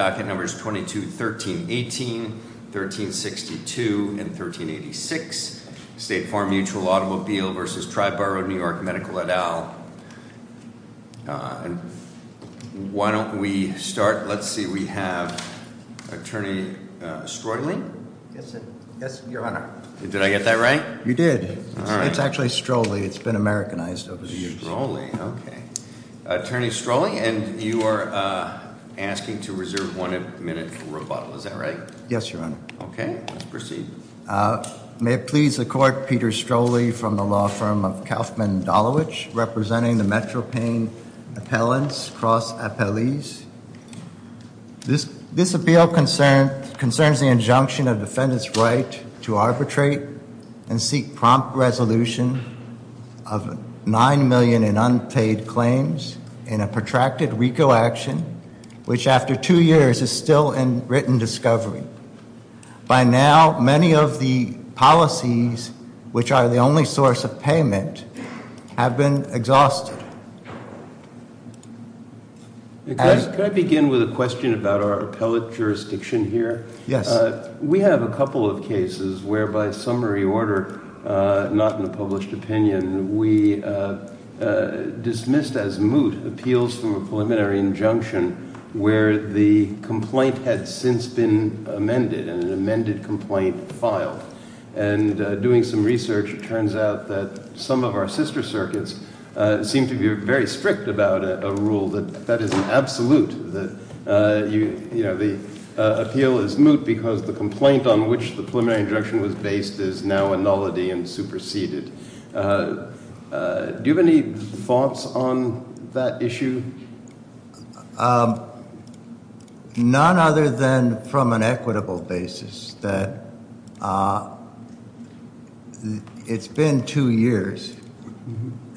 Docket Numbers 22-13-18, 13-62, and 13-86. State Farm Mutual Automobile v. Triborough, New York Medical et al. And why don't we start, let's see, we have Attorney Strolley? Yes, your honor. Did I get that right? You did, it's actually Strolley, it's been Americanized over the years. Strolley, okay. Attorney Strolley, and you are asking to reserve one minute for rebuttal, is that right? Yes, your honor. Okay, let's proceed. May it please the court, Peter Strolley from the law firm of Kaufman and Dolowich, representing the Metro Pain appellants, cross appellees. This appeal concerns the injunction of defendant's right to arbitrate and seek prompt resolution of 9 million in unpaid claims in a protracted recall action, which after two years is still in written discovery. By now, many of the policies, which are the only source of payment, have been exhausted. Can I begin with a question about our appellate jurisdiction here? Yes. We have a couple of cases where by summary order, not in a published opinion, we dismissed as moot appeals from a preliminary injunction where the complaint had since been amended, and an amended complaint filed. And doing some research, it turns out that some of our sister circuits seem to be very strict about a rule that that is an absolute. The appeal is moot because the complaint on which the preliminary injunction was based is now a nullity and superseded. Do you have any thoughts on that issue? None other than from an equitable basis that it's been two years,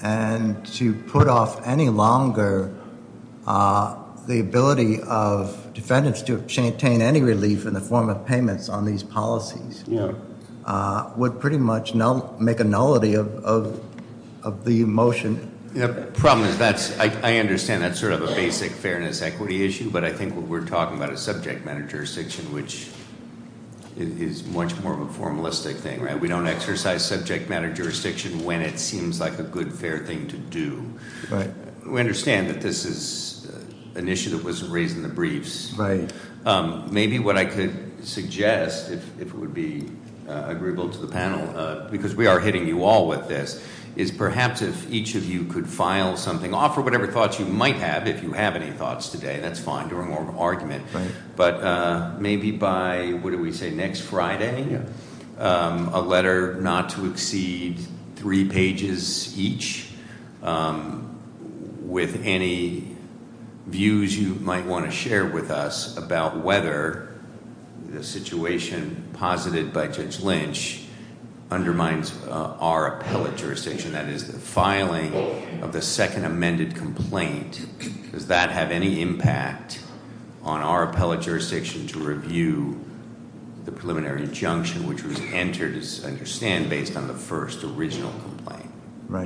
and to put off any longer the ability of defendants to obtain any relief in the form of payments on these policies. Yeah. Would pretty much make a nullity of the motion. Yeah, problem is that's, I understand that's sort of a basic fairness equity issue, but I think what we're talking about is subject matter jurisdiction, which is much more of a formalistic thing, right? We don't exercise subject matter jurisdiction when it seems like a good, fair thing to do. Right. We understand that this is an issue that wasn't raised in the briefs. Right. Maybe what I could suggest, if it would be agreeable to the panel, because we are hitting you all with this, is perhaps if each of you could file something, offer whatever thoughts you might have, if you have any thoughts today, that's fine, during our argument. But maybe by, what did we say, next Friday? Yeah. A letter not to exceed three pages each. With any views you might want to share with us about whether the situation posited by Judge Lynch undermines our appellate jurisdiction, that is the filing of the second amended complaint. Does that have any impact on our appellate jurisdiction to review the preliminary injunction which was entered, as I understand, based on the first original complaint? Right.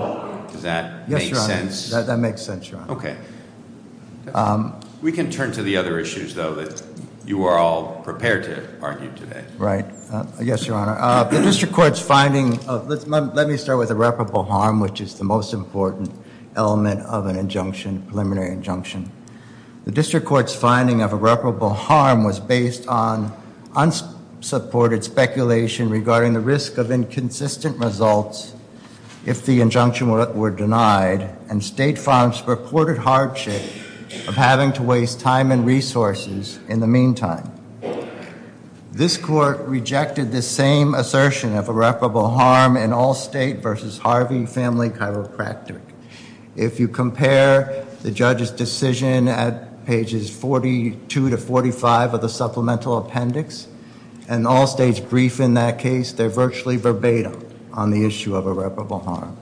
Does that make sense? That makes sense, Your Honor. Okay. We can turn to the other issues, though, that you are all prepared to argue today. Right. Yes, Your Honor. The district court's finding of, let me start with irreparable harm, which is the most important element of an injunction, preliminary injunction. The district court's finding of irreparable harm was based on unsupported speculation regarding the risk of inconsistent results if the injunction were denied, and state farms purported hardship of having to waste time and resources in the meantime. This court rejected the same assertion of irreparable harm in Allstate versus Harvey Family Chiropractic. If you compare the judge's decision at pages 42 to 45 of the supplemental appendix, and Allstate's brief in that case, they're virtually verbatim on the issue of irreparable harm.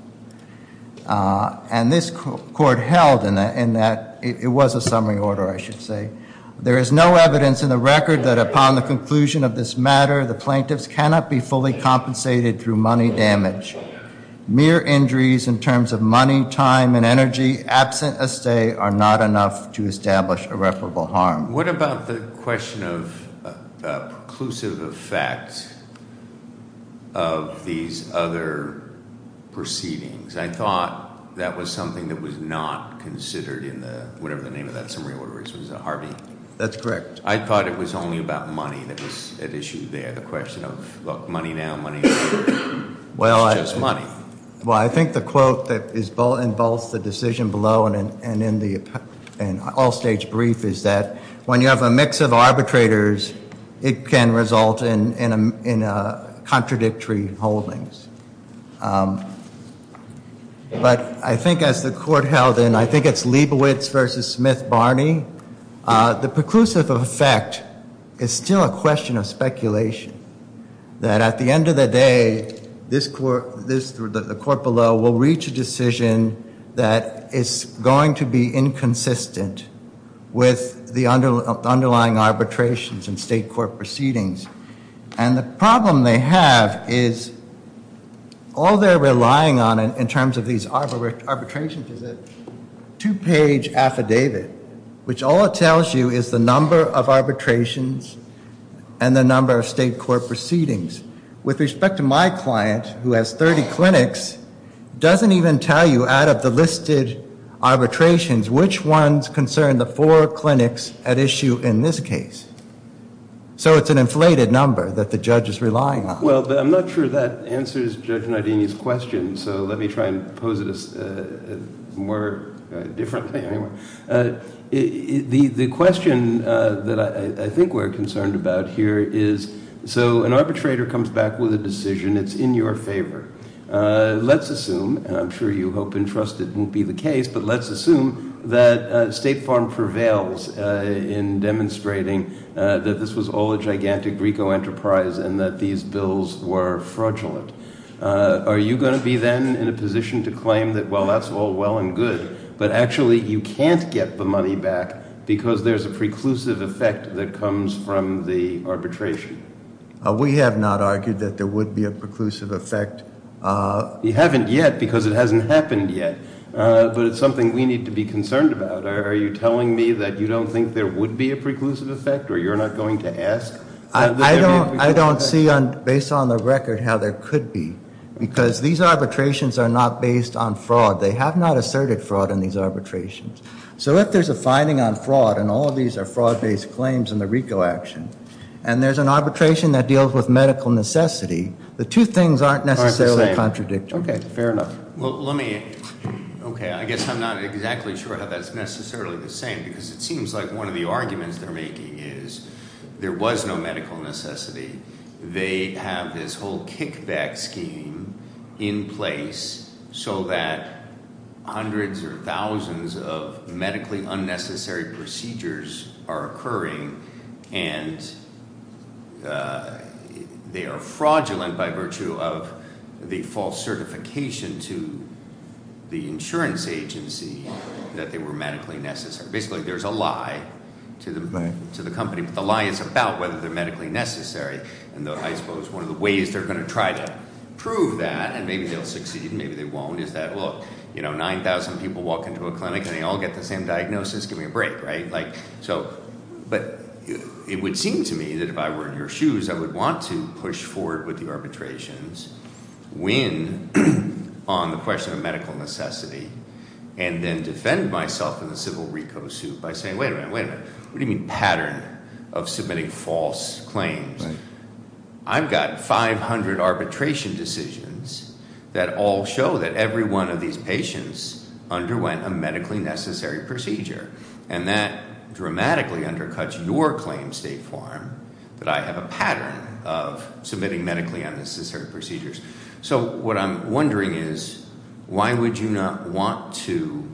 And this court held in that, it was a summary order, I should say. There is no evidence in the record that upon the conclusion of this matter, the plaintiffs cannot be fully compensated through money damage. Mere injuries in terms of money, time, and energy absent a stay are not enough to establish irreparable harm. What about the question of preclusive effect of these other proceedings? I thought that was something that was not considered in the, whatever the name of that summary order is, was it Harvey? That's correct. I thought it was only about money that was at issue there, the question of, look, money now, money later. It's just money. Well, I think the quote that involves the decision below and in the Allstate's brief is that, when you have a mix of arbitrators, it can result in contradictory holdings. But I think as the court held, and I think it's Liebowitz versus Smith-Barney, the preclusive effect is still a question of speculation. That at the end of the day, the court below will reach a decision that is going to be inconsistent with the underlying arbitrations and state court proceedings. And the problem they have is, all they're relying on in terms of these arbitrations is a two page affidavit. Which all it tells you is the number of arbitrations and the number of state court proceedings. With respect to my client, who has 30 clinics, doesn't even tell you out of the listed arbitrations, which ones concern the four clinics at issue in this case. So it's an inflated number that the judge is relying on. Well, I'm not sure that answers Judge Nardini's question. So let me try and pose it more differently, anyway. The question that I think we're concerned about here is, so an arbitrator comes back with a decision, it's in your favor. Let's assume, and I'm sure you hope and trust it won't be the case, but let's assume that State Farm prevails in demonstrating that this was all a gigantic RICO enterprise and that these bills were fraudulent. Are you going to be then in a position to claim that, well, that's all well and good. But actually, you can't get the money back because there's a preclusive effect that comes from the arbitration. We have not argued that there would be a preclusive effect. You haven't yet, because it hasn't happened yet. But it's something we need to be concerned about. Are you telling me that you don't think there would be a preclusive effect, or you're not going to ask? I don't see, based on the record, how there could be, because these arbitrations are not based on fraud. They have not asserted fraud in these arbitrations. So if there's a finding on fraud, and all of these are fraud-based claims in the RICO action, and there's an arbitration that deals with medical necessity, the two things aren't necessarily contradictory. Okay, fair enough. Well, let me, okay, I guess I'm not exactly sure how that's necessarily the same, because it seems like one of the arguments they're making is there was no medical necessity. They have this whole kickback scheme in place so that hundreds or thousands of medically unnecessary procedures are occurring. And they are fraudulent by virtue of the false certification to the insurance agency that they were medically necessary. Basically, there's a lie to the company, but the lie is about whether they're medically necessary. And I suppose one of the ways they're going to try to prove that, and maybe they'll succeed and maybe they won't, is that, well, 9,000 people walk into a clinic and they all get the same diagnosis, give me a break, right? So, but it would seem to me that if I were in your shoes, I would want to push forward with the arbitrations, win on the question of medical necessity, and then defend myself in the civil RICO suit by saying, wait a minute, wait a minute. What do you mean pattern of submitting false claims? I've got 500 arbitration decisions that all show that every one of these patients underwent a medically necessary procedure, and that dramatically undercuts your claim state form, that I have a pattern of submitting medically unnecessary procedures. So what I'm wondering is, why would you not want to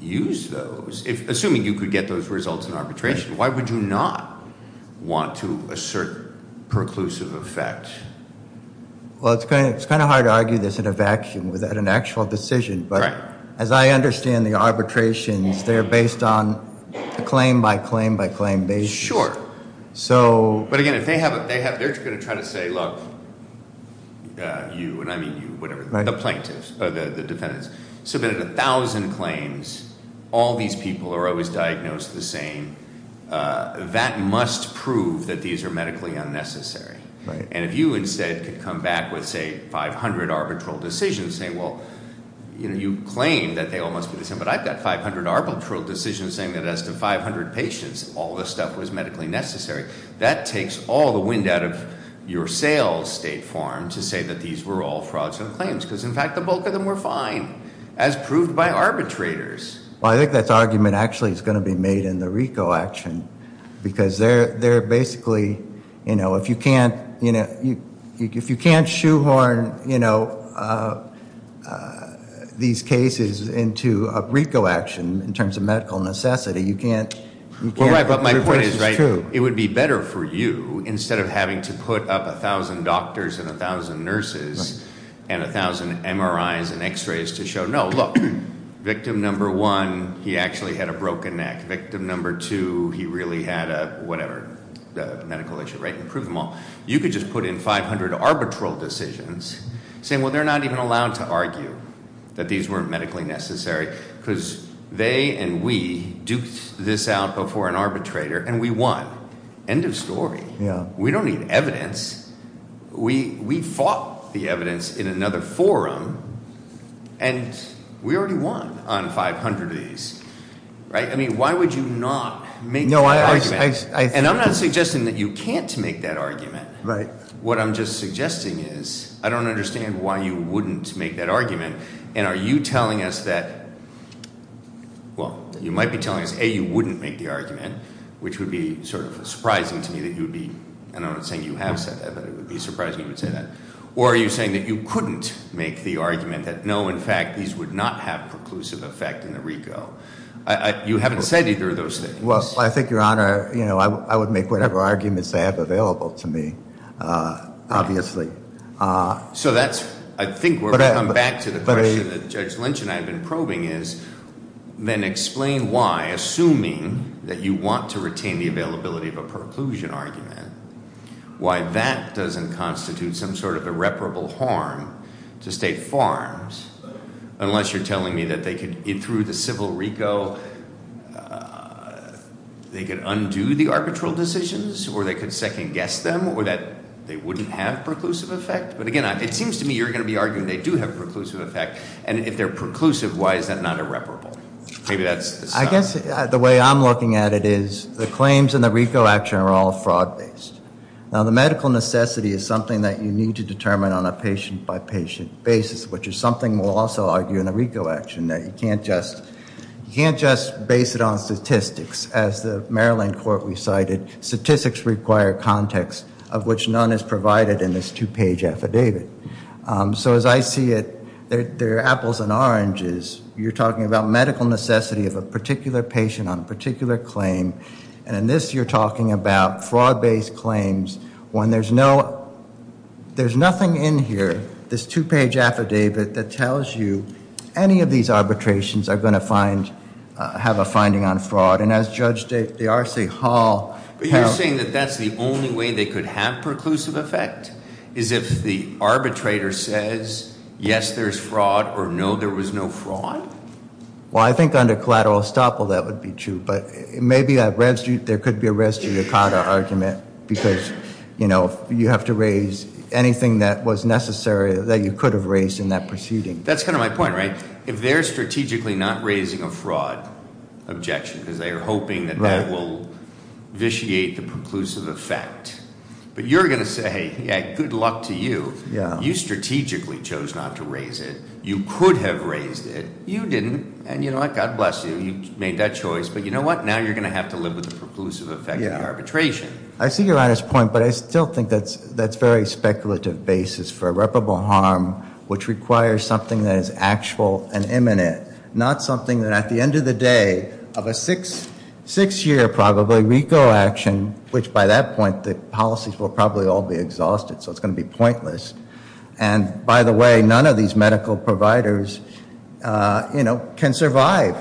use those? Assuming you could get those results in arbitration, why would you not want to assert perclusive effect? Well, it's kind of hard to argue this in a vacuum without an actual decision, but as I understand the arbitrations, they're based on claim by claim by claim basis. Sure, but again, if they have, they're going to try to say, look, you, and I mean you, whatever, the plaintiffs, or the defendants. Submitted 1,000 claims, all these people are always diagnosed the same. That must prove that these are medically unnecessary. And if you instead could come back with, say, 500 arbitral decisions saying, well, you claim that they all must be the same. But I've got 500 arbitral decisions saying that as to 500 patients, all this stuff was medically necessary. That takes all the wind out of your sales state form to say that these were all frauds and claims, because in fact, the bulk of them were fine, as proved by arbitrators. Well, I think that argument actually is going to be made in the RICO action, because they're basically, if you can't shoehorn these cases into a RICO action in terms of medical necessity, you can't- Well, right, but my point is, right, it would be better for you, instead of having to put up 1,000 doctors and 1,000 nurses and 1,000 MRIs and x-rays to show, no, look. Victim number one, he actually had a broken neck. Victim number two, he really had a, whatever, medical issue, right, and prove them all. You could just put in 500 arbitral decisions, saying, well, they're not even allowed to argue that these weren't medically necessary, because they and we duked this out before an arbitrator, and we won. End of story. We don't need evidence. We fought the evidence in another forum, and we already won on 500 of these. Right, I mean, why would you not make that argument? And I'm not suggesting that you can't make that argument. Right. What I'm just suggesting is, I don't understand why you wouldn't make that argument. And are you telling us that, well, you might be telling us, A, you wouldn't make the argument, which would be sort of surprising to me that you would be, and I'm not saying you have said that, but it would be surprising you would say that. Or are you saying that you couldn't make the argument that, no, in fact, these would not have preclusive effect in the RICO? You haven't said either of those things. Well, I think, Your Honor, I would make whatever arguments I have available to me, obviously. So that's, I think we're coming back to the question that Judge Lynch and I have been probing is, then explain why, assuming that you want to retain the availability of a preclusion argument, why that doesn't constitute some sort of irreparable harm to state farms, unless you're telling me that they could, through the civil RICO, they could undo the arbitral decisions, or they could second guess them, or that they wouldn't have preclusive effect? But again, it seems to me you're going to be arguing they do have preclusive effect, and if they're preclusive, why is that not irreparable? Maybe that's- I guess the way I'm looking at it is, the claims in the RICO action are all fraud based. Now the medical necessity is something that you need to determine on a patient by patient basis, which is something we'll also argue in the RICO action, that you can't just base it on statistics. As the Maryland court recited, statistics require context, of which none is provided in this two page affidavit. So as I see it, they're apples and oranges. You're talking about medical necessity of a particular patient on a particular claim. And in this, you're talking about fraud based claims when there's nothing in here, this two page affidavit that tells you any of these arbitrations are going to have a finding on fraud. And as Judge de Arce Hall- But you're saying that that's the only way they could have preclusive effect? Is if the arbitrator says, yes, there's fraud, or no, there was no fraud? Well, I think under collateral estoppel that would be true, but maybe there could be a res judicata argument. Because you have to raise anything that was necessary that you could have raised in that proceeding. That's kind of my point, right? If they're strategically not raising a fraud objection, because they are hoping that that will vitiate the preclusive effect. But you're going to say, good luck to you, you strategically chose not to raise it. You could have raised it, you didn't, and you know what, God bless you, you made that choice. But you know what, now you're going to have to live with the preclusive effect of the arbitration. I see your honest point, but I still think that's very speculative basis for irreparable harm, which requires something that is actual and imminent. Not something that at the end of the day of a six year probably RICO action, which by that point the policies will probably all be exhausted, so it's going to be pointless. And by the way, none of these medical providers can survive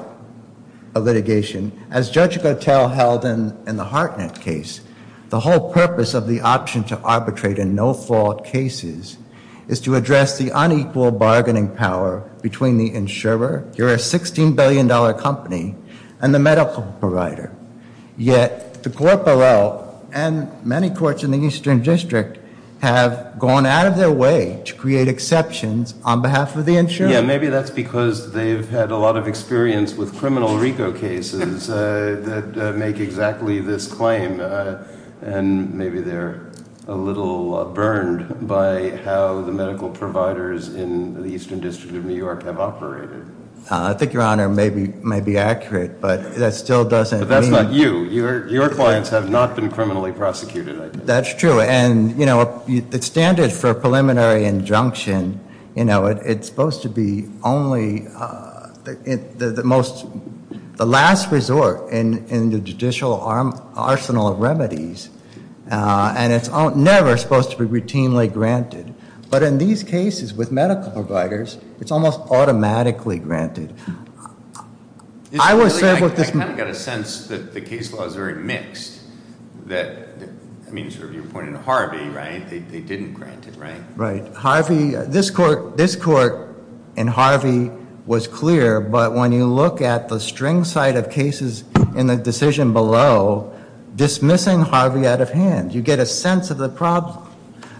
a litigation. As Judge Gotell held in the Hartnett case, the whole purpose of the option to arbitrate in no fault cases is to address the unequal bargaining power between the insurer, you're a $16 billion company, and the medical provider. Yet the court below, and many courts in the Eastern District, have gone out of their way to create exceptions on behalf of the insurer. Yeah, maybe that's because they've had a lot of experience with criminal RICO cases that make exactly this claim. And maybe they're a little burned by how the medical providers in the Eastern District of New York have operated. I think your honor may be accurate, but that still doesn't mean- But that's not you, your clients have not been criminally prosecuted, I think. That's true, and the standard for a preliminary injunction, it's supposed to be only the last resort in the judicial arsenal of remedies. And it's never supposed to be routinely granted. But in these cases with medical providers, it's almost automatically granted. I was saying with this- I kind of got a sense that the case law is very mixed. That, I mean, sort of your point in Harvey, right? They didn't grant it, right? Right, Harvey, this court in Harvey was clear, but when you look at the string side of cases in the decision below, dismissing Harvey out of hand. You get a sense of the problem.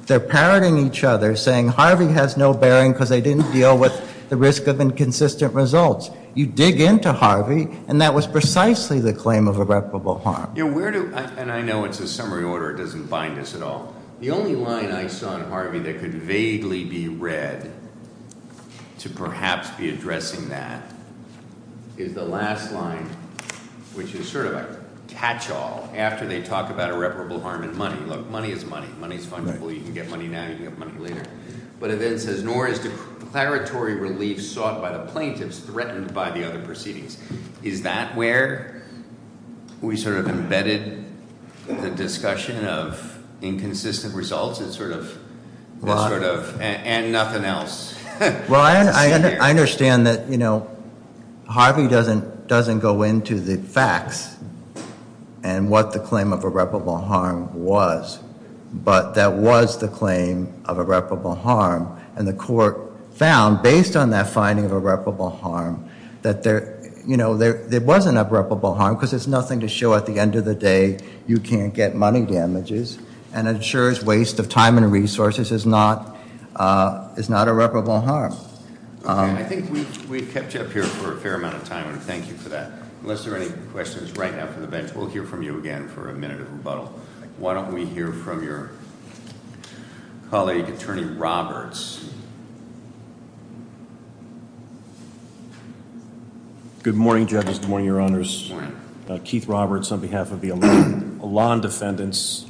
They're parroting each other, saying Harvey has no bearing because they didn't deal with the risk of inconsistent results. You dig into Harvey, and that was precisely the claim of irreparable harm. Yeah, where do, and I know it's a summary order, it doesn't bind us at all. The only line I saw in Harvey that could vaguely be read to perhaps be addressing that, is the last line, which is sort of a catch all, after they talk about irreparable harm and money. Look, money is money, money is fungible, you can get money now, you can get money later. But it then says, nor is declaratory relief sought by the plaintiffs threatened by the other proceedings. Is that where we sort of embedded the discussion of inconsistent results? It's sort of, and nothing else. Well, I understand that Harvey doesn't go into the facts and what the claim of irreparable harm was, but that was the claim of irreparable harm. And the court found, based on that finding of irreparable harm, that there wasn't irreparable harm because there's nothing to show at the end of the day you can't get money damages. And insurers' waste of time and resources is not irreparable harm. Okay, I think we've kept you up here for a fair amount of time, and thank you for that. Unless there are any questions right after the bench, we'll hear from you again for a minute of rebuttal. Why don't we hear from your colleague, Attorney Roberts. Good morning, judges, good morning, your honors. Keith Roberts on behalf of the Elan Defendants,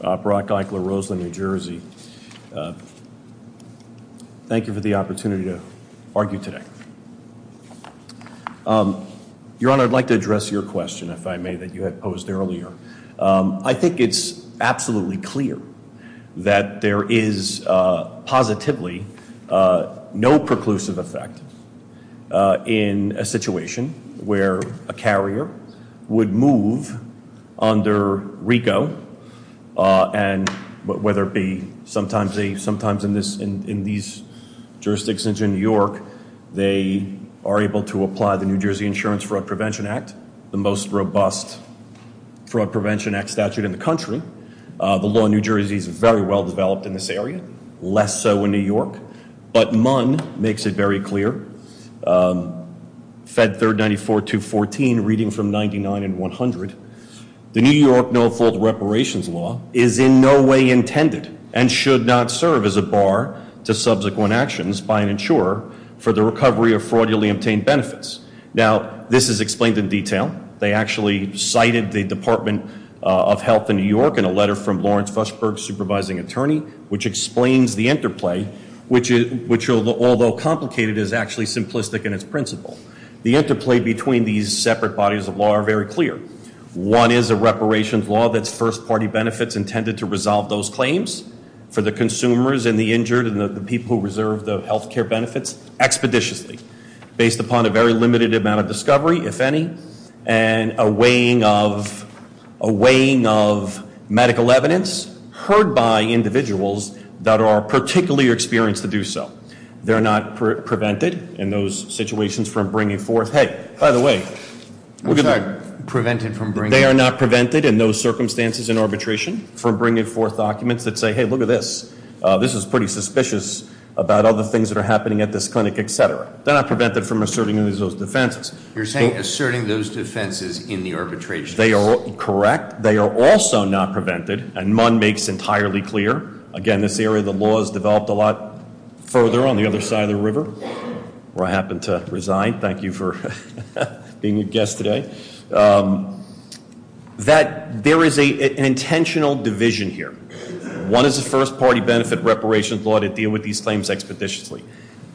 Brock Eichler, Roseland, New Jersey. Thank you for the opportunity to argue today. Your honor, I'd like to address your question, if I may, that you had posed earlier. I think it's absolutely clear that there is positively no preclusive effect in a situation where a carrier would move under RICO, and whether it be, sometimes in these jurisdictions in New York, they are able to apply the New Jersey Insurance Fraud Prevention Act, the most robust Fraud Prevention Act statute in the country. The law in New Jersey is very well developed in this area, less so in New York. But Munn makes it very clear, Fed 3rd 94214, reading from 99 and 100. The New York No-Fault Reparations Law is in no way intended and should not serve as a bar to subsequent actions by an insurer for the recovery of fraudulently obtained benefits. Now, this is explained in detail. They actually cited the Department of Health in New York in a letter from Lawrence Fushberg, supervising attorney, which explains the interplay, which, although complicated, is actually simplistic in its principle. The interplay between these separate bodies of law are very clear. One is a reparations law that's first party benefits intended to resolve those claims for the consumers and the injured and the people who reserve the healthcare benefits expeditiously. Based upon a very limited amount of discovery, if any, and a weighing of medical evidence heard by individuals that are particularly experienced to do so. They're not prevented in those situations from bringing forth, hey, by the way, look at that. They are not prevented in those circumstances in arbitration from bringing forth documents that say, hey, look at this. This is pretty suspicious about other things that are happening at this clinic, etc. They're not prevented from asserting those defenses. You're saying asserting those defenses in the arbitration. They are correct. They are also not prevented, and Munn makes entirely clear. Again, this area of the law is developed a lot further on the other side of the river, where I happen to resign. Thank you for being a guest today. That there is an intentional division here. One is the first party benefit reparations law to deal with these claims expeditiously.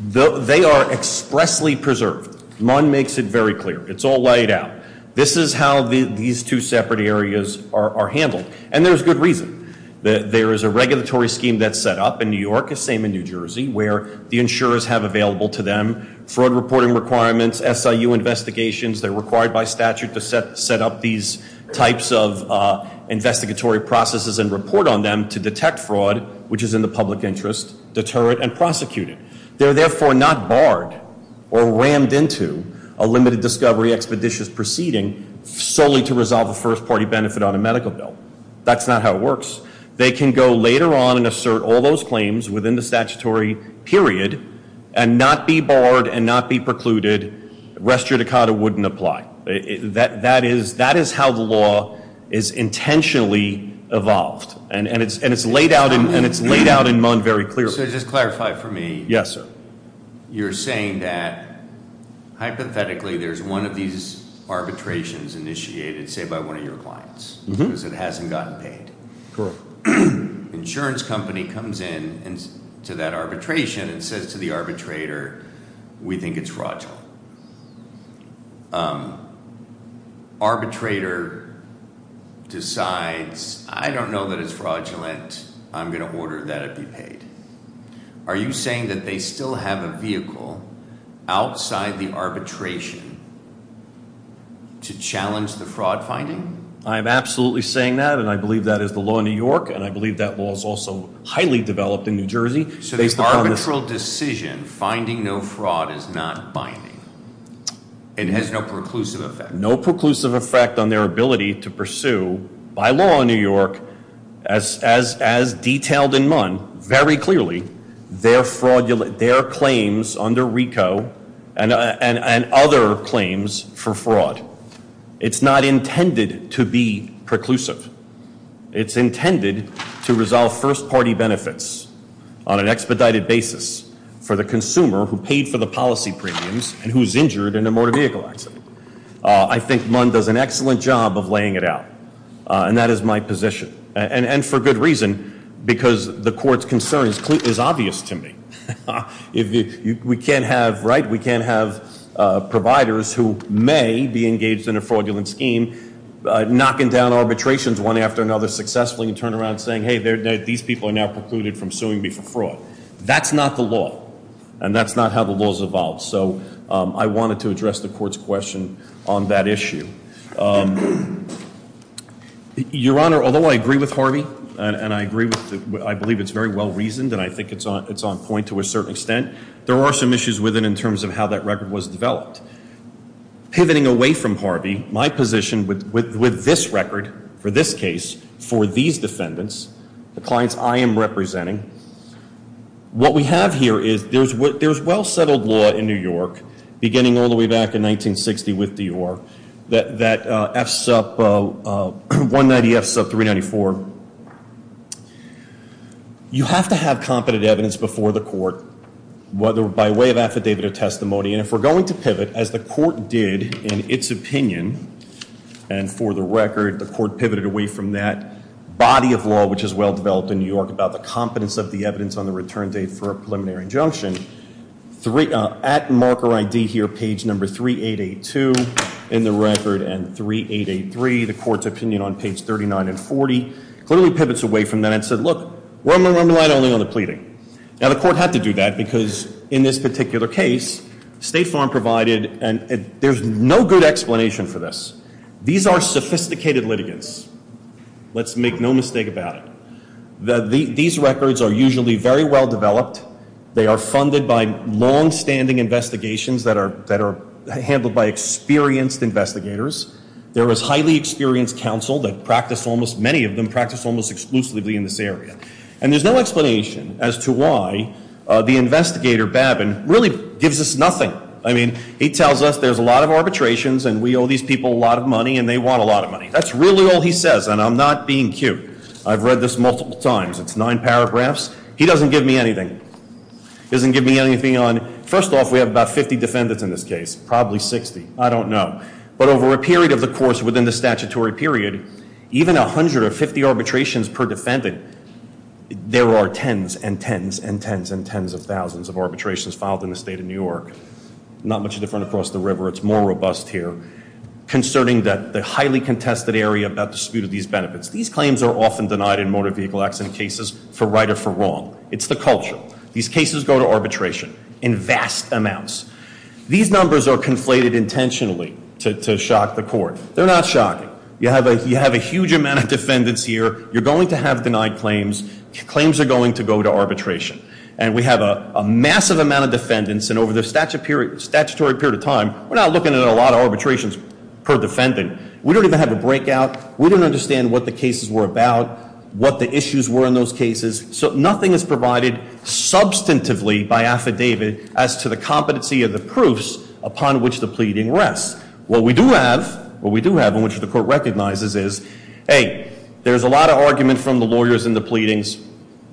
They are expressly preserved. Munn makes it very clear. It's all laid out. This is how these two separate areas are handled, and there's good reason. There is a regulatory scheme that's set up in New York, the same in New Jersey, where the insurers have available to them fraud reporting requirements, SIU investigations. They're required by statute to set up these types of investigatory processes and report on them to detect fraud, which is in the public interest, deter it, and prosecute it. They're therefore not barred or rammed into a limited discovery expeditious proceeding solely to resolve a first party benefit on a medical bill. That's not how it works. They can go later on and assert all those claims within the statutory period and not be barred and not be precluded. Restricted wouldn't apply. That is how the law is intentionally evolved, and it's laid out in Munn very clearly. So just clarify for me. Yes, sir. You're saying that, hypothetically, there's one of these arbitrations initiated, say, by one of your clients, because it hasn't gotten paid. Insurance company comes in to that arbitration and says to the arbitrator, we think it's fraudulent. Arbitrator decides, I don't know that it's fraudulent, I'm going to order that it be paid. Are you saying that they still have a vehicle outside the arbitration to challenge the fraud finding? I'm absolutely saying that, and I believe that is the law in New York, and I believe that law is also highly developed in New Jersey. So the arbitral decision, finding no fraud, is not binding. It has no preclusive effect. No preclusive effect on their ability to pursue, by law in New York, as detailed in Munn very clearly, their claims under RICO. And other claims for fraud. It's not intended to be preclusive. It's intended to resolve first party benefits on an expedited basis for the consumer who paid for the policy premiums and who's injured in a motor vehicle accident. I think Munn does an excellent job of laying it out. And that is my position. And for good reason, because the court's concern is obvious to me. If we can't have, right, we can't have providers who may be engaged in a fraudulent scheme, knocking down arbitrations one after another successfully, and turn around saying, hey, these people are now precluded from suing me for fraud. That's not the law, and that's not how the law's evolved. So I wanted to address the court's question on that issue. Your Honor, although I agree with Harvey, and I agree with, I believe it's very well reasoned, and I think it's on point to a certain extent. There are some issues with it in terms of how that record was developed. Pivoting away from Harvey, my position with this record for this case, for these defendants, the clients I am representing, what we have here is, there's well settled law in New York, beginning all the way back in 1960 with Dior, that F sub 190 F sub 394, you have to have competent evidence before the court. Whether by way of affidavit or testimony, and if we're going to pivot, as the court did in its opinion, and for the record, the court pivoted away from that body of law, which is well developed in New York, about the competence of the evidence on the return date for a preliminary injunction. At marker ID here, page number 3882, in the record, and 3883. The court's opinion on page 39 and 40, clearly pivots away from that and said, look, we're going to rely only on the pleading. Now the court had to do that because in this particular case, State Farm provided, and there's no good explanation for this. These are sophisticated litigants. Let's make no mistake about it. These records are usually very well developed. They are funded by long standing investigations that are handled by experienced investigators. There is highly experienced counsel that practice almost, many of them practice almost exclusively in this area. And there's no explanation as to why the investigator, Babin, really gives us nothing. I mean, he tells us there's a lot of arbitrations and we owe these people a lot of money and they want a lot of money. That's really all he says, and I'm not being cute. I've read this multiple times. It's nine paragraphs. He doesn't give me anything. He doesn't give me anything on, first off, we have about 50 defendants in this case, probably 60, I don't know. But over a period of the course within the statutory period, even 150 arbitrations per defendant. There are tens and tens and tens and tens of thousands of arbitrations filed in the state of New York. Not much different across the river, it's more robust here. Concerning the highly contested area about dispute of these benefits. These claims are often denied in motor vehicle accident cases for right or for wrong. It's the culture. These cases go to arbitration in vast amounts. These numbers are conflated intentionally to shock the court. They're not shocking. You have a huge amount of defendants here. You're going to have denied claims. Claims are going to go to arbitration. And we have a massive amount of defendants. And over the statutory period of time, we're not looking at a lot of arbitrations per defendant. We don't even have a breakout. We don't understand what the cases were about, what the issues were in those cases. So nothing is provided substantively by affidavit as to the competency of the proofs upon which the pleading rests. What we do have, what we do have and which the court recognizes is, hey, there's a lot of argument from the lawyers in the pleadings.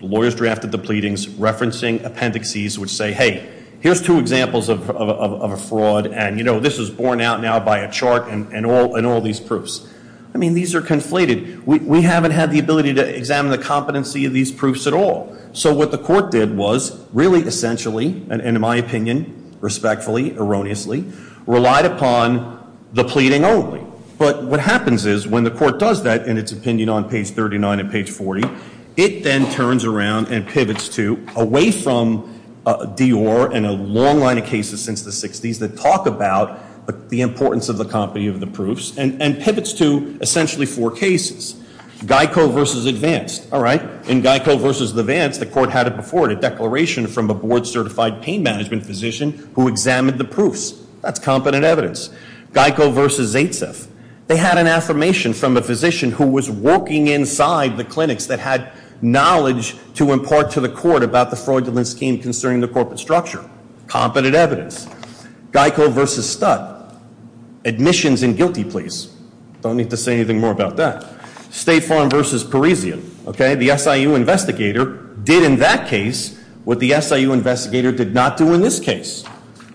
Lawyers drafted the pleadings referencing appendices which say, hey, here's two examples of a fraud. And this was borne out now by a chart and all these proofs. I mean, these are conflated. We haven't had the ability to examine the competency of these proofs at all. So what the court did was really essentially, and in my opinion, respectfully, erroneously, relied upon the pleading only. But what happens is, when the court does that in its opinion on page 39 and page 40, it then turns around and pivots to away from Dior and a long line of cases since the 60s that talk about the importance of the company of the proofs. And pivots to essentially four cases. Geico versus Advanced, all right? In Geico versus Advanced, the court had it before it, a declaration from a board certified pain management physician who examined the proofs. That's competent evidence. Geico versus Zaitsev. They had an affirmation from a physician who was working inside the clinics that had knowledge to impart to the court about the fraudulent scheme concerning the corporate structure. Competent evidence. Geico versus Stud. Admissions and guilty pleas. Don't need to say anything more about that. State Farm versus Parisian, okay? The SIU investigator did in that case what the SIU investigator did not do in this case.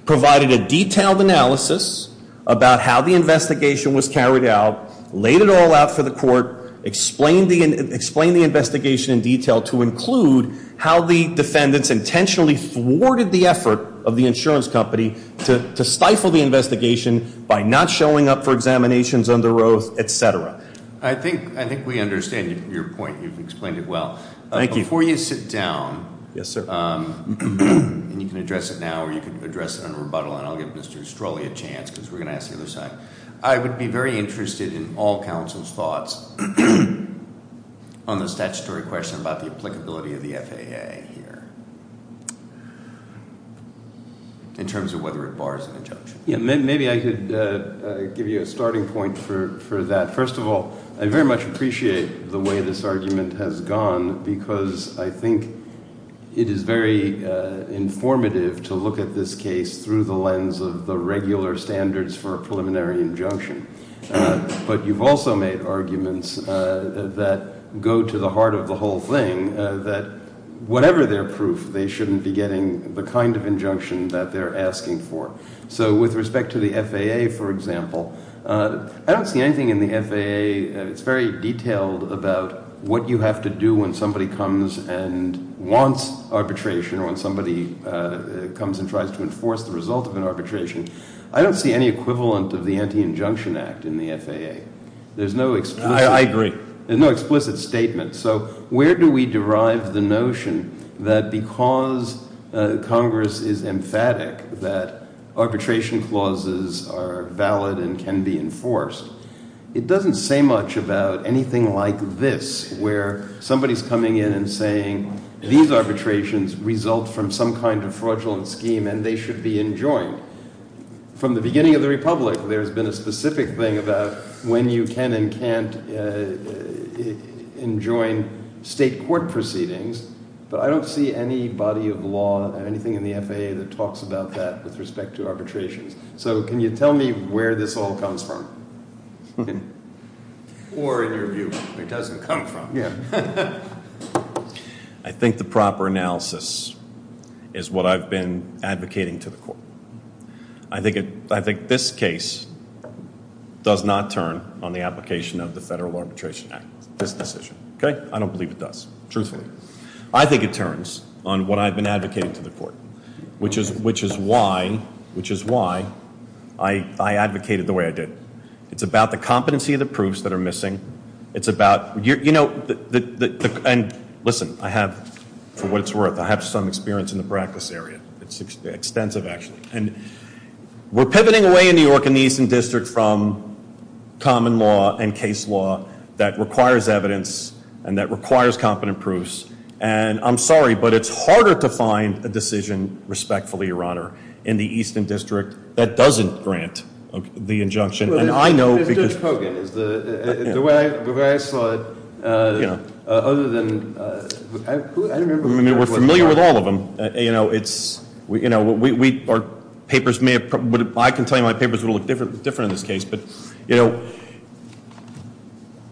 Provided a detailed analysis about how the investigation was carried out. Laid it all out for the court. Explained the investigation in detail to include how the defendants disintentionally thwarted the effort of the insurance company to stifle the investigation by not showing up for examinations under oath, etc. I think we understand your point. You've explained it well. Thank you. Before you sit down, and you can address it now, or you can address it in rebuttal. And I'll give Mr. Strolley a chance, because we're going to ask the other side. I would be very interested in all counsel's thoughts on the statutory question about the applicability of the FAA here. In terms of whether it bars an injunction. Yeah, maybe I could give you a starting point for that. First of all, I very much appreciate the way this argument has gone because I think it is very informative to look at this case through the lens of the regular standards for a preliminary injunction. But you've also made arguments that go to the heart of the whole thing, that whatever their proof, they shouldn't be getting the kind of injunction that they're asking for. So with respect to the FAA, for example, I don't see anything in the FAA, it's very detailed about what you have to do when somebody comes and wants arbitration, or when somebody comes and tries to enforce the result of an arbitration. I don't see any equivalent of the Anti-Injunction Act in the FAA. There's no explicit- I agree. There's no explicit statement. So where do we derive the notion that because Congress is emphatic that arbitration clauses are valid and can be enforced? It doesn't say much about anything like this, where somebody's coming in and saying these arbitrations result from some kind of fraudulent scheme and they should be enjoined. From the beginning of the republic, there's been a specific thing about when you can and can't enjoin state court proceedings, but I don't see any body of law or anything in the FAA that talks about that with respect to arbitrations. So can you tell me where this all comes from? Or in your view, where it doesn't come from? Yeah. I think the proper analysis is what I've been advocating to the court. I think this case does not turn on the application of the Federal Arbitration Act, this decision. Okay? I don't believe it does, truthfully. I think it turns on what I've been advocating to the court, which is why I advocated the way I did. It's about the competency of the proofs that are missing. It's about, you know, and listen, I have, for what it's worth, I have some experience in the practice area. It's extensive, actually. And we're pivoting away in New York in the Eastern District from common law and case law that requires evidence and that requires competent proofs. And I'm sorry, but it's harder to find a decision, respectfully, your honor, in the Eastern District that doesn't grant the injunction. And I know because- Judge Kogan, the way I saw it, other than, I don't remember- I mean, we're familiar with all of them. Our papers may have, I can tell you my papers will look different in this case, but you know-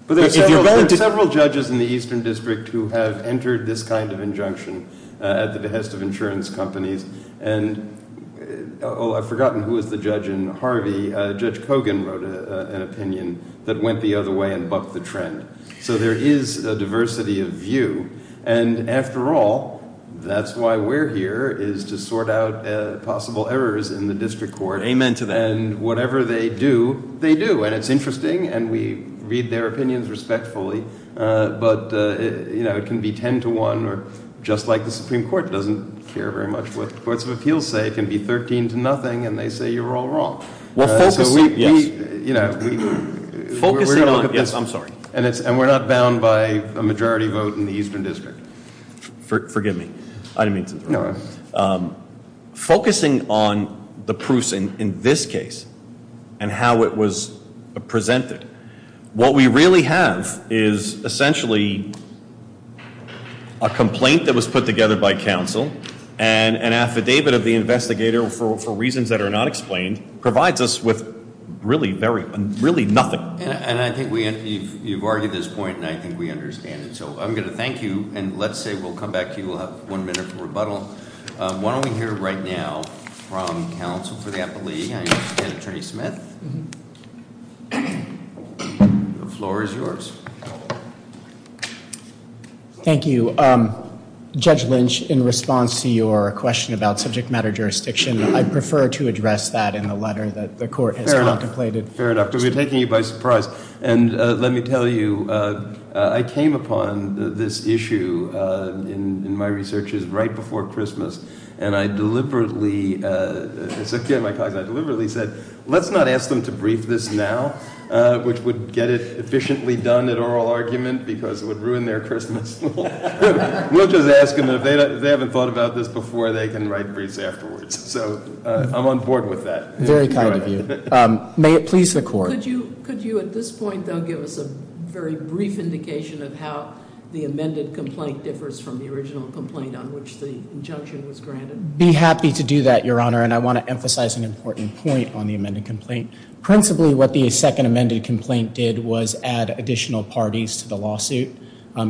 But there are several judges in the Eastern District who have entered this kind of injunction at the behest of insurance companies. And I've forgotten who was the judge in Harvey. Judge Kogan wrote an opinion that went the other way and bucked the trend. So there is a diversity of view. And after all, that's why we're here, is to sort out possible errors in the district court. Amen to that. And whatever they do, they do. And it's interesting, and we read their opinions respectfully. But it can be ten to one, or just like the Supreme Court doesn't care very much what the courts of appeals say. It can be 13 to nothing, and they say you're all wrong. We're focusing, yes, I'm sorry. And we're not bound by a majority vote in the Eastern District. Forgive me, I didn't mean to interrupt. No. Focusing on the proofs in this case, and how it was presented. What we really have is essentially a complaint that was put together by counsel. And an affidavit of the investigator, for reasons that are not explained, provides us with really nothing. And I think you've argued this point, and I think we understand it. So I'm going to thank you, and let's say we'll come back to you. We'll have one minute for rebuttal. Why don't we hear right now from counsel for the appellee, and again, Attorney Smith. The floor is yours. Thank you. Judge Lynch, in response to your question about subject matter jurisdiction, I'd prefer to address that in the letter that the court has contemplated. Fair enough, because we're taking you by surprise. And let me tell you, I came upon this issue in my researches right before Christmas. And I deliberately said, let's not ask them to brief this now, which would get it efficiently done at oral argument, because it would ruin their Christmas. We'll just ask them if they haven't thought about this before, they can write briefs afterwards. So I'm on board with that. Very kind of you. May it please the court. Could you, at this point, though, give us a very brief indication of how the amended complaint differs from the original complaint on which the injunction was granted? Be happy to do that, Your Honor, and I want to emphasize an important point on the amended complaint. Principally, what the second amended complaint did was add additional parties to the lawsuit.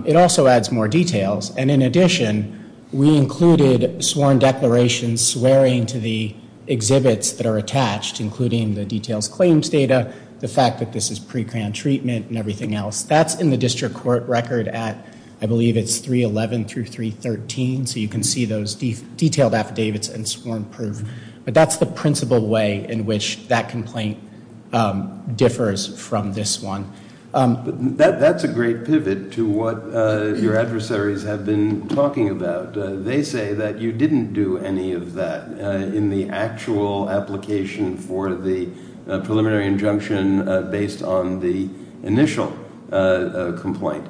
It also adds more details, and in addition, we included sworn declarations and swearing to the exhibits that are attached, including the details claims data, the fact that this is pre-grant treatment, and everything else. That's in the district court record at, I believe it's 311 through 313, so you can see those detailed affidavits and sworn proof. But that's the principal way in which that complaint differs from this one. But that's a great pivot to what your adversaries have been talking about. They say that you didn't do any of that in the actual application for the preliminary injunction based on the initial complaint.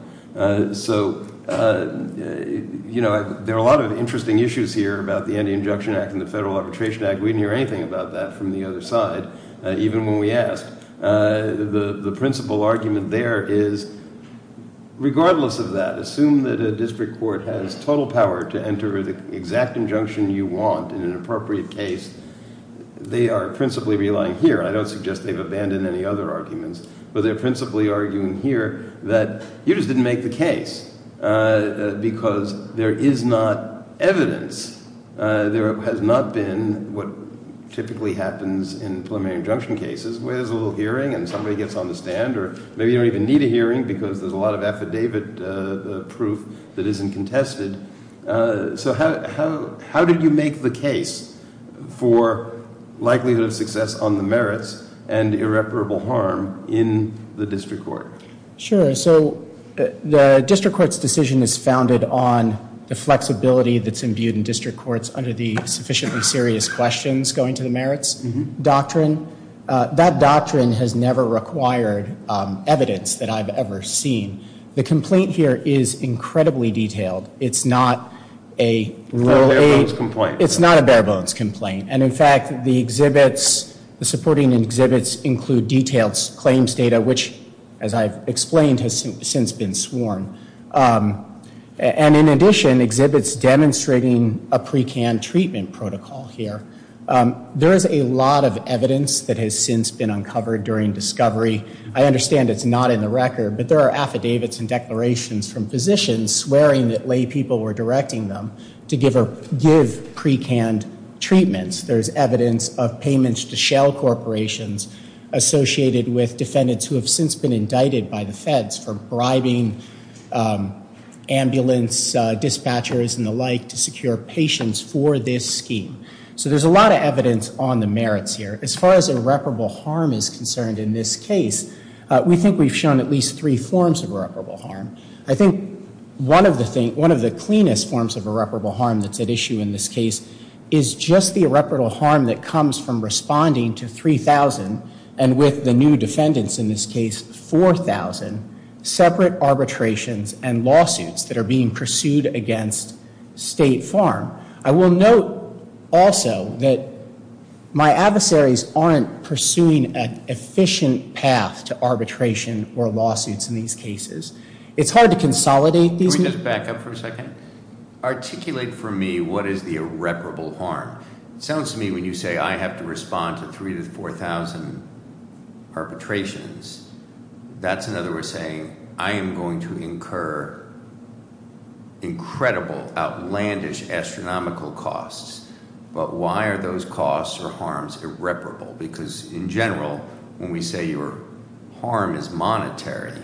So, there are a lot of interesting issues here about the Anti-Injunction Act and the Federal Arbitration Act. We didn't hear anything about that from the other side, even when we asked. The principal argument there is, regardless of that, assume that a district court has total power to enter the exact injunction you want in an appropriate case. They are principally relying here. I don't suggest they've abandoned any other arguments. But they're principally arguing here that you just didn't make the case, because there is not evidence. There has not been what typically happens in preliminary injunction cases, where there's a little hearing and somebody gets on the stand. Or maybe you don't even need a hearing, because there's a lot of affidavit proof that isn't contested. So how did you make the case for likelihood of success on the merits and irreparable harm in the district court? Sure, so the district court's decision is founded on the flexibility that's imbued in district courts under the sufficiently serious questions going to the merits doctrine. That doctrine has never required evidence that I've ever seen. The complaint here is incredibly detailed. It's not a real- It's a bare-bones complaint. It's not a bare-bones complaint. And in fact, the supporting exhibits include detailed claims data, which, as I've explained, has since been sworn. And in addition, exhibits demonstrating a pre-can treatment protocol here. There is a lot of evidence that has since been uncovered during discovery. I understand it's not in the record, but there are affidavits and declarations from physicians swearing that lay people were directing them to give pre-canned treatments. There's evidence of payments to shell corporations associated with defendants who have since been indicted by the feds for bribing ambulance dispatchers and the like to secure patients for this scheme. So there's a lot of evidence on the merits here. As far as irreparable harm is concerned in this case, we think we've shown at least three forms of irreparable harm. I think one of the cleanest forms of irreparable harm that's at issue in this case is just the irreparable harm that comes from responding to 3,000, and with the new defendants in this case, 4,000, separate arbitrations and lawsuits that are being pursued against State Farm. I will note also that my adversaries aren't pursuing an efficient path to arbitration or lawsuits in these cases. It's hard to consolidate these- Can we just back up for a second? Articulate for me what is the irreparable harm. Sounds to me when you say I have to respond to 3,000 to 4,000 perpetrations. That's another way of saying, I am going to incur incredible outlandish astronomical costs. But why are those costs or harms irreparable? Because in general, when we say your harm is monetary,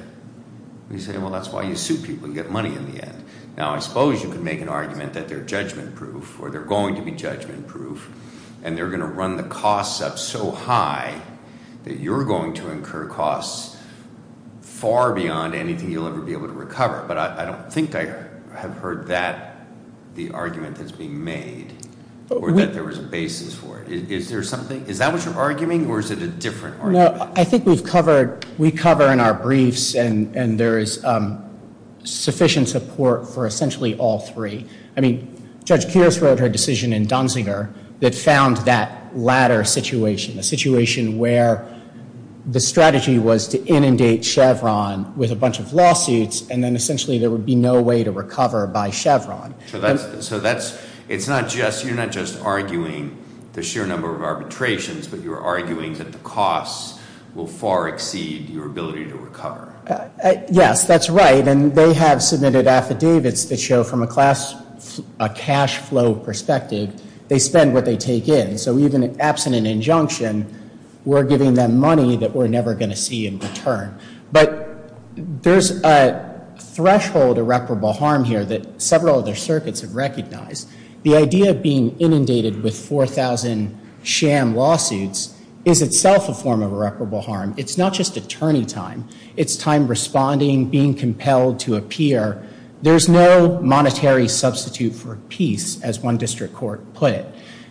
we say, well, that's why you sue people and get money in the end. Now, I suppose you could make an argument that they're judgment proof, or they're going to be judgment proof. And they're going to run the costs up so high that you're going to incur costs far beyond anything you'll ever be able to recover. But I don't think I have heard that, the argument that's being made, or that there was a basis for it. Is there something, is that what you're arguing, or is it a different argument? No, I think we've covered, we cover in our briefs, and there is sufficient support for essentially all three. I mean, Judge Kears wrote her decision in Dunziger that found that latter situation. A situation where the strategy was to inundate Chevron with a bunch of lawsuits, and then essentially there would be no way to recover by Chevron. So that's, it's not just, you're not just arguing the sheer number of arbitrations, but you're arguing that the costs will far exceed your ability to recover. Yes, that's right, and they have submitted affidavits that show from a cash flow perspective, they spend what they take in. So even in absent an injunction, we're giving them money that we're never going to see in return. But there's a threshold irreparable harm here that several other circuits have recognized. The idea of being inundated with 4,000 sham lawsuits is itself a form of irreparable harm. It's not just attorney time. It's time responding, being compelled to appear. There's no monetary substitute for peace, as one district court put it.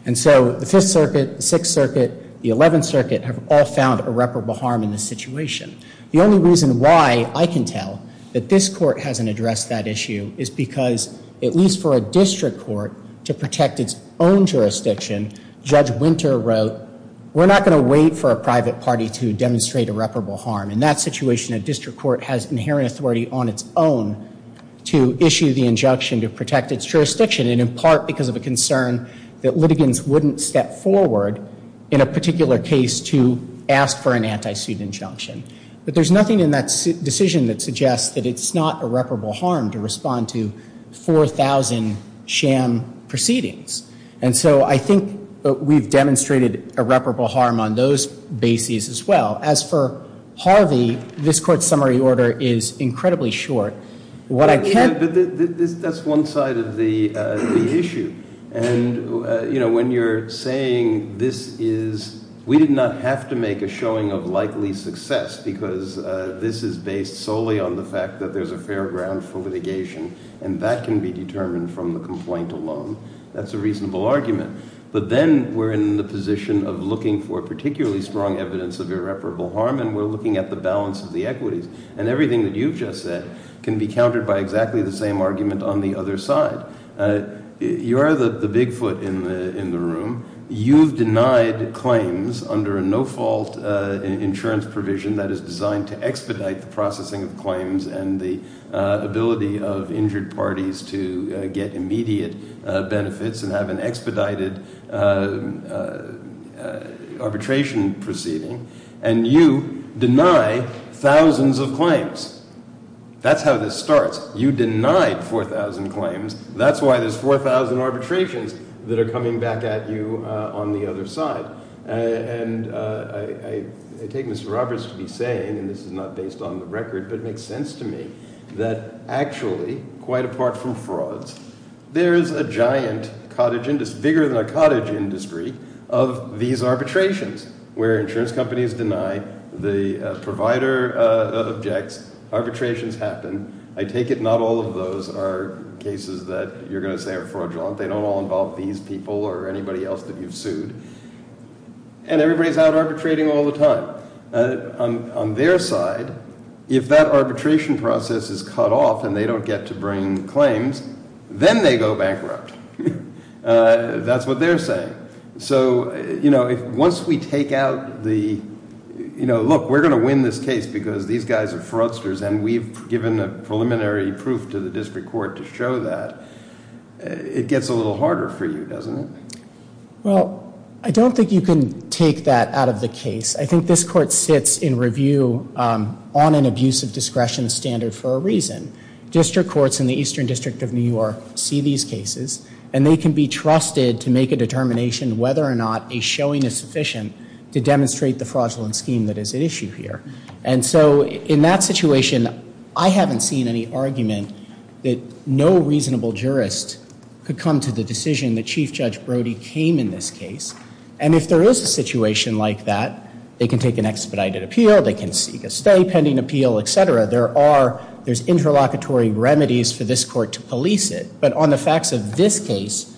And so the Fifth Circuit, the Sixth Circuit, the Eleventh Circuit have all found irreparable harm in this situation. The only reason why I can tell that this court hasn't addressed that issue is because, at least for a district court to protect its own jurisdiction, Judge Winter wrote, we're not going to wait for a private party to demonstrate irreparable harm. In that situation, a district court has inherent authority on its own to issue the injunction to protect its jurisdiction. And in part because of a concern that litigants wouldn't step forward in a particular case to ask for an anti-suit injunction. But there's nothing in that decision that suggests that it's not irreparable harm to respond to 4,000 sham proceedings. And so I think we've demonstrated irreparable harm on those bases as well. As for Harvey, this court's summary order is incredibly short. What I can- But that's one side of the issue. And when you're saying this is, we did not have to make a showing of likely success, because this is based solely on the fact that there's a fair ground for litigation. And that can be determined from the complaint alone. That's a reasonable argument. But then we're in the position of looking for particularly strong evidence of irreparable harm. And we're looking at the balance of the equities. And everything that you've just said can be countered by exactly the same argument on the other side. You are the big foot in the room. You've denied claims under a no fault insurance provision that is designed to expedite the processing of claims and the ability of injured parties to get immediate benefits and have an expedited arbitration proceeding. And you deny thousands of claims. That's how this starts. You denied 4,000 claims. That's why there's 4,000 arbitrations that are coming back at you on the other side. And I take Mr. Roberts to be saying, and this is not based on the record, but it makes sense to me, that actually, quite apart from frauds, there is a giant cottage industry, bigger than a cottage industry, of these arbitrations. Where insurance companies deny the provider objects, arbitrations happen. I take it not all of those are cases that you're going to say are fraudulent. They don't all involve these people or anybody else that you've sued. And everybody's out arbitrating all the time. On their side, if that arbitration process is cut off and they don't get to bring claims, then they go bankrupt. That's what they're saying. So once we take out the, look, we're going to win this case because these guys are fraudsters and we've given a preliminary proof to the district court to show that, it gets a little harder for you, doesn't it? Well, I don't think you can take that out of the case. I think this court sits in review on an abuse of discretion standard for a reason. District courts in the Eastern District of New York see these cases and they can be trusted to make a determination whether or not a showing is sufficient to demonstrate the fraudulent scheme that is at issue here. And so in that situation, I haven't seen any argument that no reasonable jurist could come to the decision that Chief Judge Brody came in this case. And if there is a situation like that, they can take an expedited appeal, they can seek a stay pending appeal, etc. There's interlocutory remedies for this court to police it. But on the facts of this case,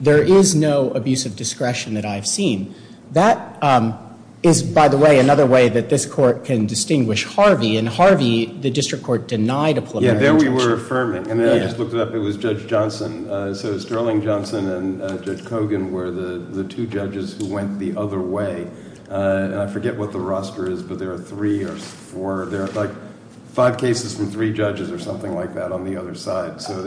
there is no abuse of discretion that I've seen. That is, by the way, another way that this court can distinguish Harvey. In Harvey, the district court denied a preliminary- Yeah, there we were affirming. And then I just looked it up, it was Judge Johnson. So Sterling Johnson and Judge Kogan were the two judges who went the other way. And I forget what the roster is, but there are three or four, there are like five cases from three judges or something like that on the other side. So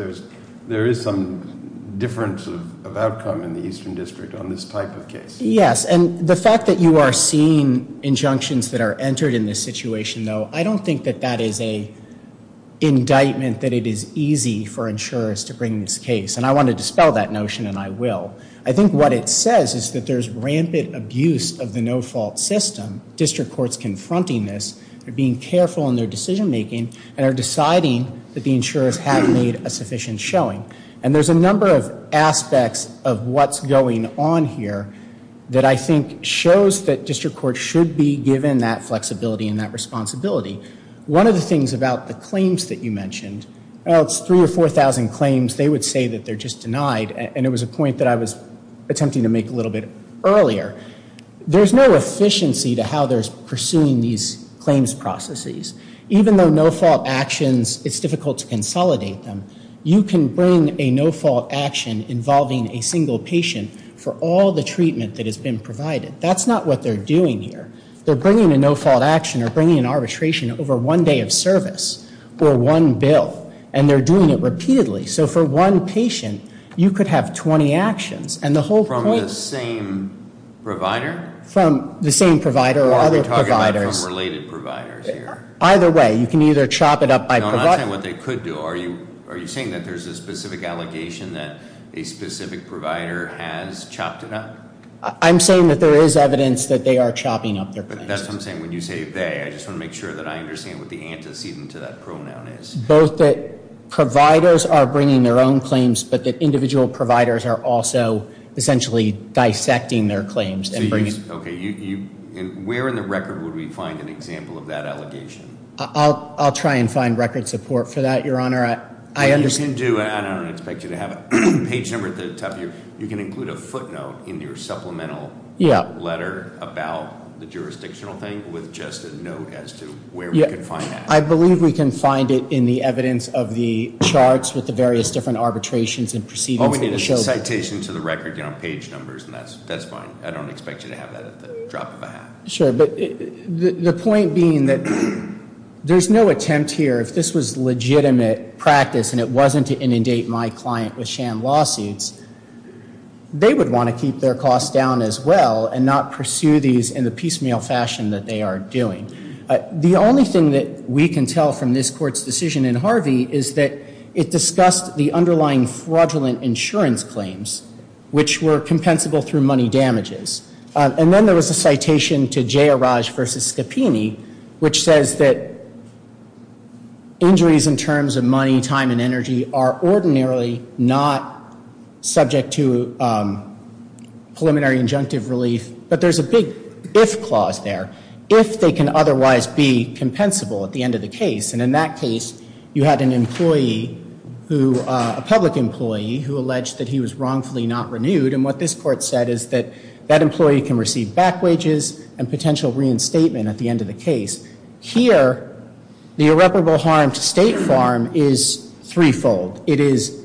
there is some difference of outcome in the Eastern District on this type of case. Yes, and the fact that you are seeing injunctions that are entered in this situation, though, I don't think that that is a indictment that it is easy for insurers to bring this case. And I want to dispel that notion, and I will. I think what it says is that there's rampant abuse of the no fault system. District courts confronting this, they're being careful in their decision making, and they're deciding that the insurers haven't made a sufficient showing. And there's a number of aspects of what's going on here that I think shows that district courts should be given that flexibility and that responsibility. One of the things about the claims that you mentioned, it's three or 4,000 claims. They would say that they're just denied, and it was a point that I was attempting to make a little bit earlier. There's no efficiency to how they're pursuing these claims processes. Even though no fault actions, it's difficult to consolidate them. You can bring a no fault action involving a single patient for all the treatment that has been provided. That's not what they're doing here. They're bringing a no fault action or bringing an arbitration over one day of service or one bill. And they're doing it repeatedly. So for one patient, you could have 20 actions. And the whole point- From the same provider? From the same provider or other providers. Or are we talking about from related providers here? Either way, you can either chop it up by provider- I'm not saying what they could do. Are you saying that there's a specific allegation that a specific provider has chopped it up? I'm saying that there is evidence that they are chopping up their claims. That's what I'm saying when you say they, I just want to make sure that I understand what the antecedent to that pronoun is. Both that providers are bringing their own claims, but that individual providers are also essentially dissecting their claims and bringing- Okay, where in the record would we find an example of that allegation? I'll try and find record support for that, your honor. I understand- You can do, I don't expect you to have a page number at the top of your, you can include a footnote in your supplemental- Yeah. Letter about the jurisdictional thing with just a note as to where we can find that. I believe we can find it in the evidence of the charts with the various different arbitrations and proceedings that we showed. Okay, it's a citation to the record, page numbers, and that's fine. I don't expect you to have that at the drop of a hat. Sure, but the point being that there's no attempt here, if this was legitimate practice and it wasn't to inundate my client with sham lawsuits, they would want to keep their costs down as well and not pursue these in the piecemeal fashion that they are doing. The only thing that we can tell from this court's decision in Harvey is that it discussed the underlying fraudulent insurance claims, which were compensable through money damages. And then there was a citation to Jayaraj versus Scapini, which says that injuries in terms of money, time, and energy are ordinarily not subject to preliminary injunctive relief, but there's a big if clause there. If they can otherwise be compensable at the end of the case, and in that case, you had an employee who, a public employee, who alleged that he was wrongfully not renewed. And what this court said is that that employee can receive back wages and potential reinstatement at the end of the case. Here, the irreparable harm to State Farm is threefold. It is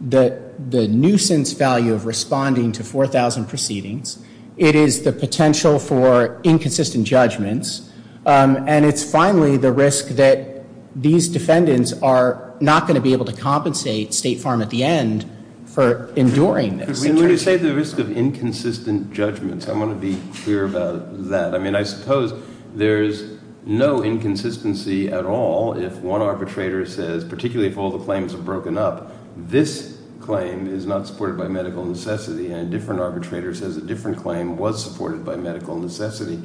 the nuisance value of responding to 4,000 proceedings. It is the potential for inconsistent judgments. And it's finally the risk that these defendants are not going to be able to compensate State Farm at the end for enduring this. And when you say the risk of inconsistent judgments, I want to be clear about that. I mean, I suppose there's no inconsistency at all if one arbitrator says, particularly if all the claims are broken up, this claim is not supported by medical necessity. And a different arbitrator says a different claim was supported by medical necessity.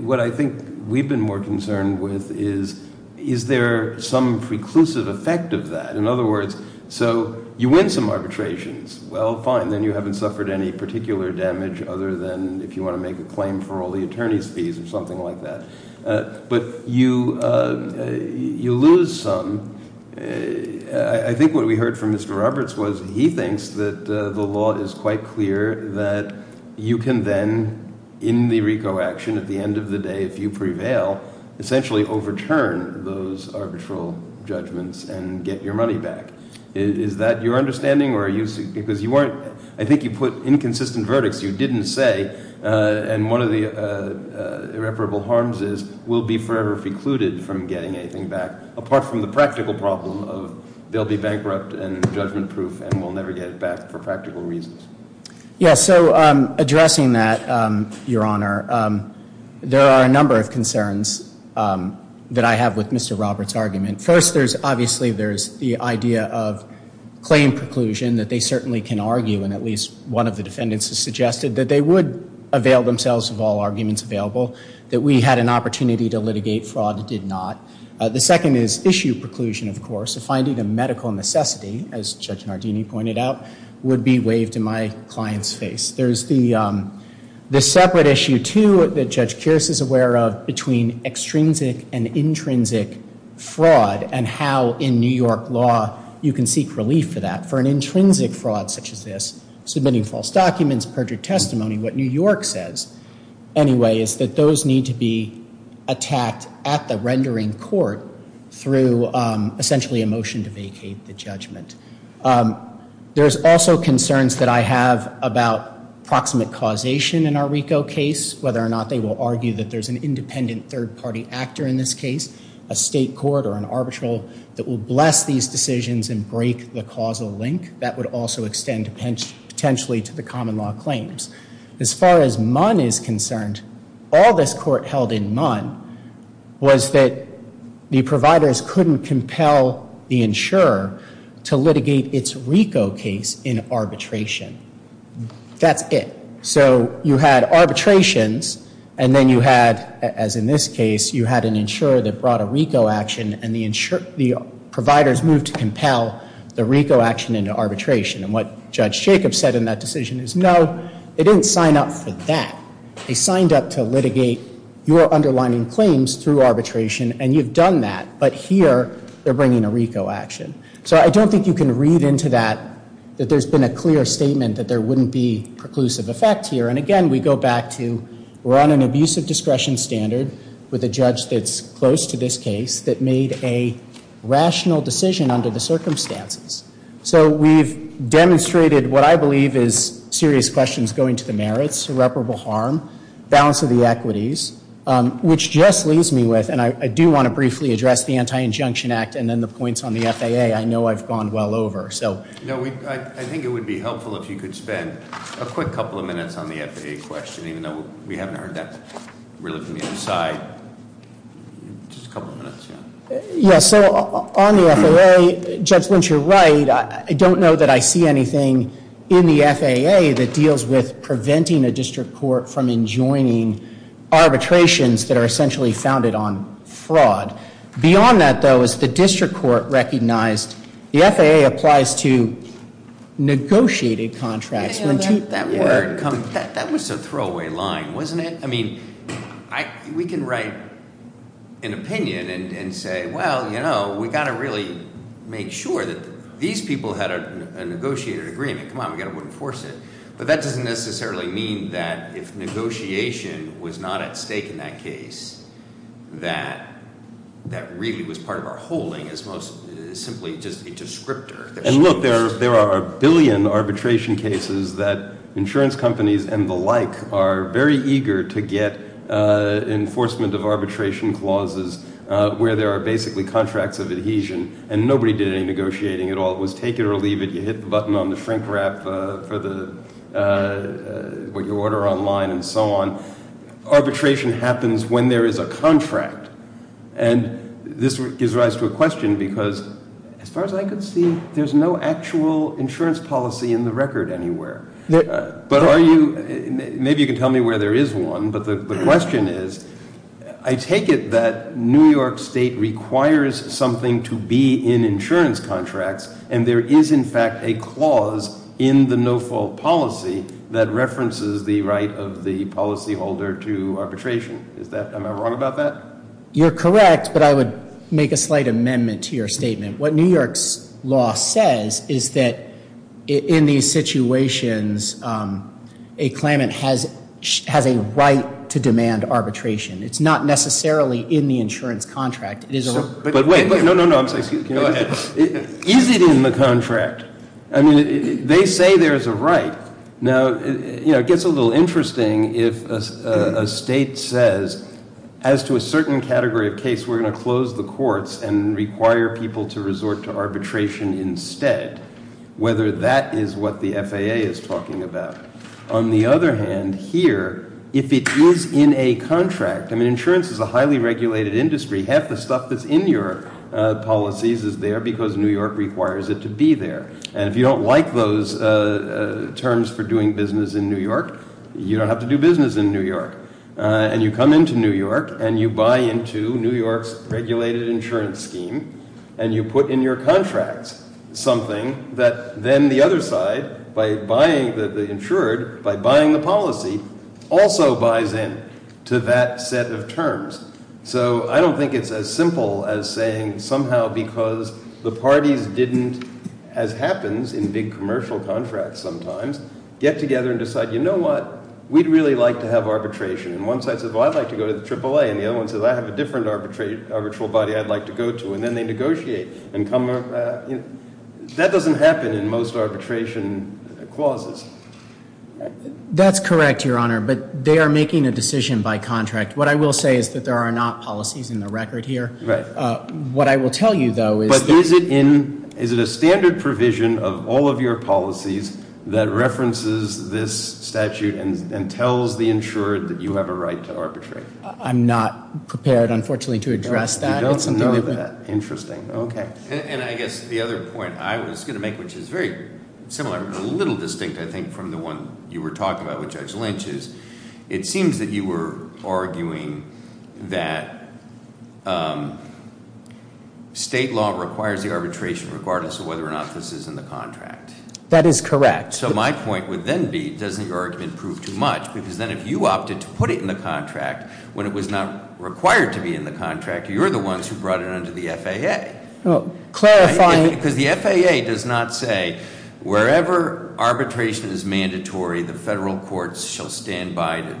What I think we've been more concerned with is, is there some preclusive effect of that? In other words, so you win some arbitrations. Well, fine, then you haven't suffered any particular damage other than if you want to make a claim for all the attorney's fees or something like that. But you lose some, I think what we heard from Mr. Roberts was he thinks that the law is quite clear that you can then, in the RICO action, at the end of the day, if you prevail, essentially overturn those arbitral judgments and get your money back, is that your understanding or are you, because you weren't, I think you put inconsistent verdicts. You didn't say, and one of the irreparable harms is, we'll be forever precluded from getting anything back apart from the practical problem of they'll be bankrupt and judgment proof and we'll never get it back for practical reasons. Yes, so addressing that, your honor, there are a number of concerns that I have with Mr. Roberts' argument. First, there's obviously, there's the idea of claim preclusion that they certainly can argue, and at least one of the defendants has suggested that they would avail themselves of all arguments available. That we had an opportunity to litigate fraud that did not. The second is issue preclusion, of course. Finding a medical necessity, as Judge Nardini pointed out, would be waived in my client's face. There's the separate issue, too, that Judge Kearse is aware of between extrinsic and intrinsic fraud and how in New York law you can seek relief for that. For an intrinsic fraud such as this, submitting false documents, perjured testimony, what New York says anyway is that those need to be attacked at the rendering court through essentially a motion to vacate the judgment. There's also concerns that I have about proximate causation in our RICO case, whether or not they will argue that there's an independent third party actor in this case, a state court or an arbitral that will bless these decisions and break the causal link. That would also extend potentially to the common law claims. As far as MUN is concerned, all this court held in MUN was that the providers couldn't compel the insurer to litigate its RICO case in arbitration. That's it. So you had arbitrations and then you had, as in this case, you had an insurer that brought a RICO action and the providers moved to compel the RICO action into arbitration. And what Judge Jacobs said in that decision is no, they didn't sign up for that. They signed up to litigate your underlining claims through arbitration and you've done that. But here, they're bringing a RICO action. So I don't think you can read into that, that there's been a clear statement that there wouldn't be preclusive effect here. And again, we go back to, we're on an abusive discretion standard with a judge that's close to this case that made a rational decision under the circumstances. So we've demonstrated what I believe is serious questions going to the merits, irreparable harm, balance of the equities, which just leaves me with, and I do want to briefly address the Anti-Injunction Act and then the points on the FAA, I know I've gone well over, so. No, I think it would be helpful if you could spend a quick couple of minutes on the FAA question, even though we haven't heard that really from the inside, just a couple of minutes, yeah. Yeah, so on the FAA, Judge Lynch, you're right, I don't know that I see anything in the FAA that deals with preventing a district court from enjoining arbitrations that are essentially founded on fraud. Beyond that, though, is the district court recognized, the FAA applies to negotiated contracts. That was a throwaway line, wasn't it? I mean, we can write an opinion and say, well, we've got to really make sure that these people had a negotiated agreement. Come on, we've got to enforce it. But that doesn't necessarily mean that if negotiation was not at stake in that case, that that really was part of our holding as most simply just a descriptor. And look, there are a billion arbitration cases that insurance companies and the like are very eager to get enforcement of arbitration clauses where there are basically contracts of adhesion and nobody did any negotiating at all. It was take it or leave it, you hit the button on the shrink wrap for what you order online and so on. Arbitration happens when there is a contract. And this gives rise to a question because as far as I can see, there's no actual insurance policy in the record anywhere. But are you, maybe you can tell me where there is one, but the question is, I take it that New York State requires something to be in insurance contracts and there is in fact a clause in the no fault policy that references the right of the policy holder to arbitration. Is that, am I wrong about that? You're correct, but I would make a slight amendment to your statement. What New York's law says is that in these situations, a claimant has a right to demand arbitration. It's not necessarily in the insurance contract, it is a- But wait, no, no, no, I'm sorry, excuse me. Go ahead. Is it in the contract? I mean, they say there's a right. Now, it gets a little interesting if a state says, as to a certain category of case, we're going to close the courts and require people to resort to arbitration instead. Whether that is what the FAA is talking about. On the other hand, here, if it is in a contract, I mean, insurance is a highly regulated industry. Half the stuff that's in your policies is there because New York requires it to be there. And if you don't like those terms for doing business in New York, you don't have to do business in New York. And you come into New York, and you buy into New York's regulated insurance scheme, and you put in your contracts something that then the other side, by buying the insured, by buying the policy, also buys in to that set of terms. So I don't think it's as simple as saying somehow because the parties didn't, as happens in big commercial contracts sometimes, get together and decide, you know what? We'd really like to have arbitration. And one side says, well, I'd like to go to the AAA. And the other one says, I have a different arbitral body I'd like to go to. And then they negotiate and come, that doesn't happen in most arbitration clauses. That's correct, Your Honor, but they are making a decision by contract. What I will say is that there are not policies in the record here. What I will tell you, though, is- But is it a standard provision of all of your policies that references this statute, and tells the insured that you have a right to arbitrate? I'm not prepared, unfortunately, to address that. It's something that- You don't know that. Interesting. Okay. And I guess the other point I was going to make, which is very similar, but a little distinct, I think, from the one you were talking about with Judge Lynch is, it seems that you were arguing that state law requires the arbitration regardless of whether or not this is in the contract. That is correct. So my point would then be, doesn't your argument prove too much? Because then if you opted to put it in the contract when it was not required to be in the contract, you're the ones who brought it under the FAA. Clarifying- Because the FAA does not say, wherever arbitration is mandatory, the federal courts shall stand by to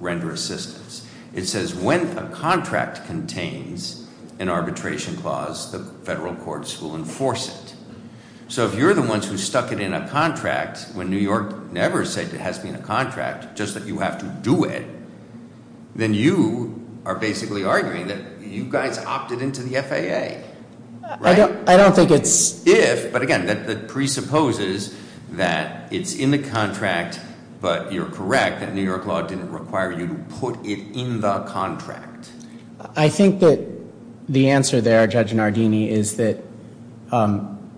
render assistance. It says, when a contract contains an arbitration clause, the federal courts will enforce it. So if you're the ones who stuck it in a contract when New York never said it has been a contract, just that you have to do it, then you are basically arguing that you guys opted into the FAA, right? I don't think it's- If, but again, that presupposes that it's in the contract, but you're correct that New York law didn't require you to put it in the contract. I think that the answer there, Judge Nardini, is that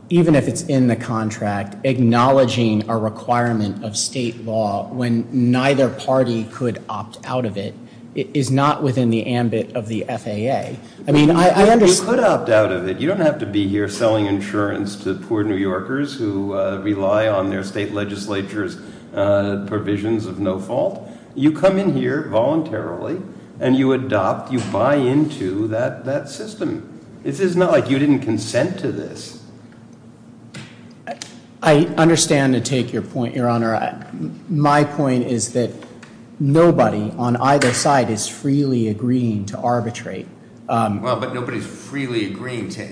even if it's in the contract, acknowledging a requirement of state law when neither party could opt out of it, is not within the ambit of the FAA. I mean, I understand- You could opt out of it. You don't have to be here selling insurance to poor New Yorkers who rely on their state legislature's provisions of no fault. You come in here voluntarily, and you adopt, you buy into that system. This is not like you didn't consent to this. I understand and take your point, your honor. My point is that nobody on either side is freely agreeing to arbitrate. Well, but nobody's freely agreeing to,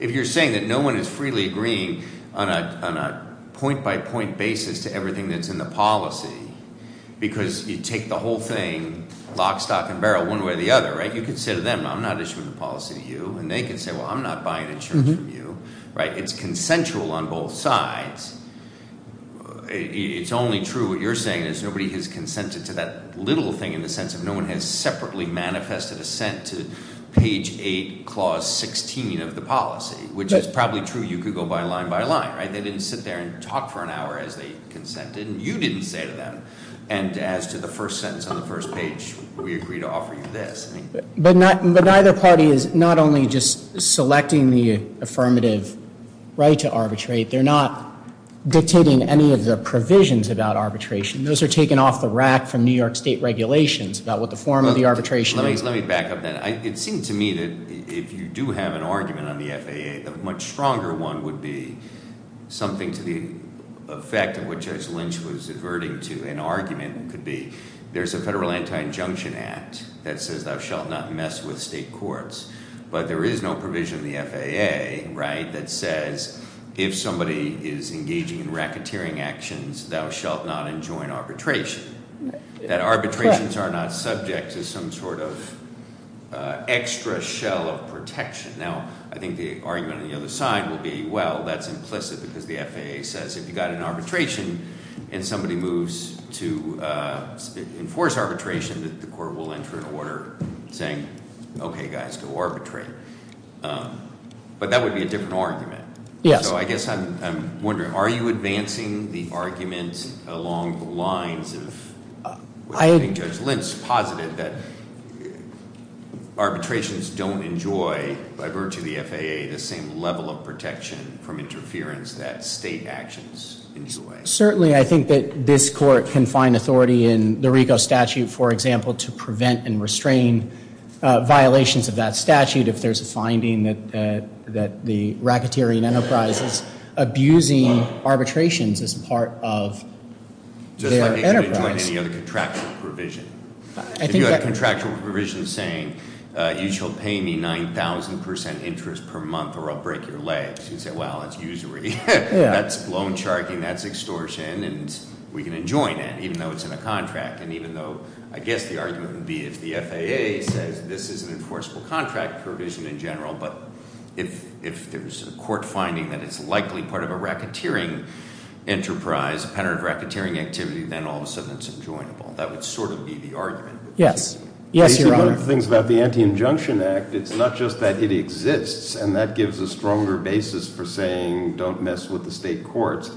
if you're saying that no one is freely agreeing on a point by point basis to everything that's in the policy. Because you take the whole thing, lock, stock, and barrel, one way or the other, right? You could say to them, I'm not issuing the policy to you. And they could say, well, I'm not buying insurance from you, right? It's consensual on both sides. It's only true what you're saying is nobody has consented to that little thing in the sense of no one has separately manifested assent to page eight, clause 16 of the policy, which is probably true. You could go by line by line, right? They didn't sit there and talk for an hour as they consented, and you didn't say to them. And as to the first sentence on the first page, we agree to offer you this. But neither party is not only just selecting the affirmative right to arbitrate. They're not dictating any of the provisions about arbitration. Those are taken off the rack from New York state regulations about what the form of the arbitration is. It seems to me that if you do have an argument on the FAA, the much stronger one would be something to the effect of what Judge Lynch was averting to. An argument could be, there's a federal anti-injunction act that says thou shalt not mess with state courts. But there is no provision in the FAA, right, that says if somebody is engaging in racketeering actions, thou shalt not enjoin arbitration. That arbitrations are not subject to some sort of extra shell of protection. Now, I think the argument on the other side would be, well, that's implicit because the FAA says if you've got an arbitration and somebody moves to enforce arbitration, that the court will enter an order saying, okay guys, go arbitrate. But that would be a different argument. Yes. So I guess I'm wondering, are you advancing the argument along the lines of what I think Judge Lynch posited, that arbitrations don't enjoy, by virtue of the FAA, the same level of protection from interference that state actions enjoy? Certainly, I think that this court can find authority in the RICO statute, for example, to prevent and restrain violations of that statute if there's a finding that the racketeering enterprise is abusing arbitrations as part of their enterprise. Just like they should enjoin any other contractual provision. If you had a contractual provision saying, you shall pay me 9,000% interest per month or I'll break your legs, you'd say, well, that's usury. That's loan sharking, that's extortion, and we can enjoin it, even though it's in a contract. And even though, I guess the argument would be if the FAA says this is an enforceable contract provision in general, but if there's a court finding that it's likely part of a racketeering enterprise, a pattern of racketeering activity, then all of a sudden it's enjoinable. That would sort of be the argument. Yes. Yes, Your Honor. One of the things about the Anti-Injunction Act, it's not just that it exists, and that gives a stronger basis for saying, don't mess with the state courts.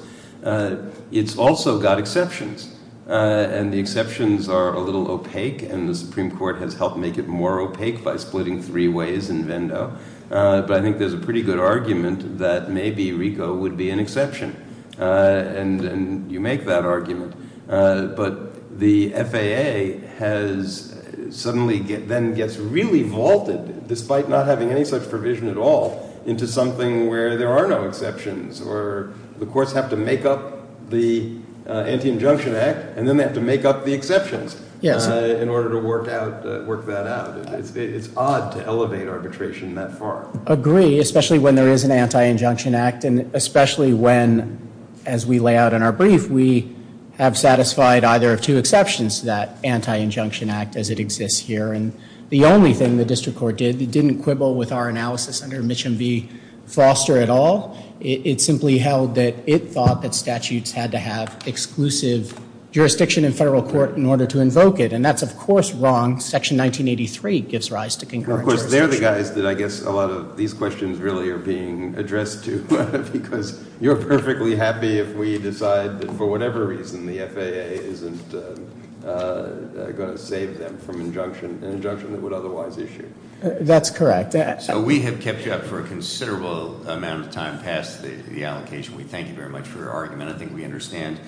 It's also got exceptions, and the exceptions are a little opaque, and the Supreme Court has helped make it more opaque by splitting three ways in Vendo. But I think there's a pretty good argument that maybe RICO would be an exception, and you make that argument. But the FAA has suddenly then gets really vaulted, despite not having any such provision at all, into something where there are no exceptions. Or the courts have to make up the Anti-Injunction Act, and then they have to make up the exceptions. Yes. In order to work that out. It's odd to elevate arbitration that far. Agree, especially when there is an Anti-Injunction Act, and especially when, as we lay out in our brief, we have satisfied either of two exceptions to that Anti-Injunction Act as it exists here. And the only thing the district court did, it didn't quibble with our analysis under Mitch and V. Foster at all, it simply held that it thought that statutes had to have exclusive jurisdiction in federal court in order to invoke it, and that's of course wrong. Section 1983 gives rise to concurrent jurisdiction. Of course, they're the guys that I guess a lot of these questions really are being addressed to. Because you're perfectly happy if we decide that for whatever reason the FAA isn't going to save them from an injunction that would otherwise issue. That's correct. So we have kept you up for a considerable amount of time past the allocation. We thank you very much for your argument. I think we understand.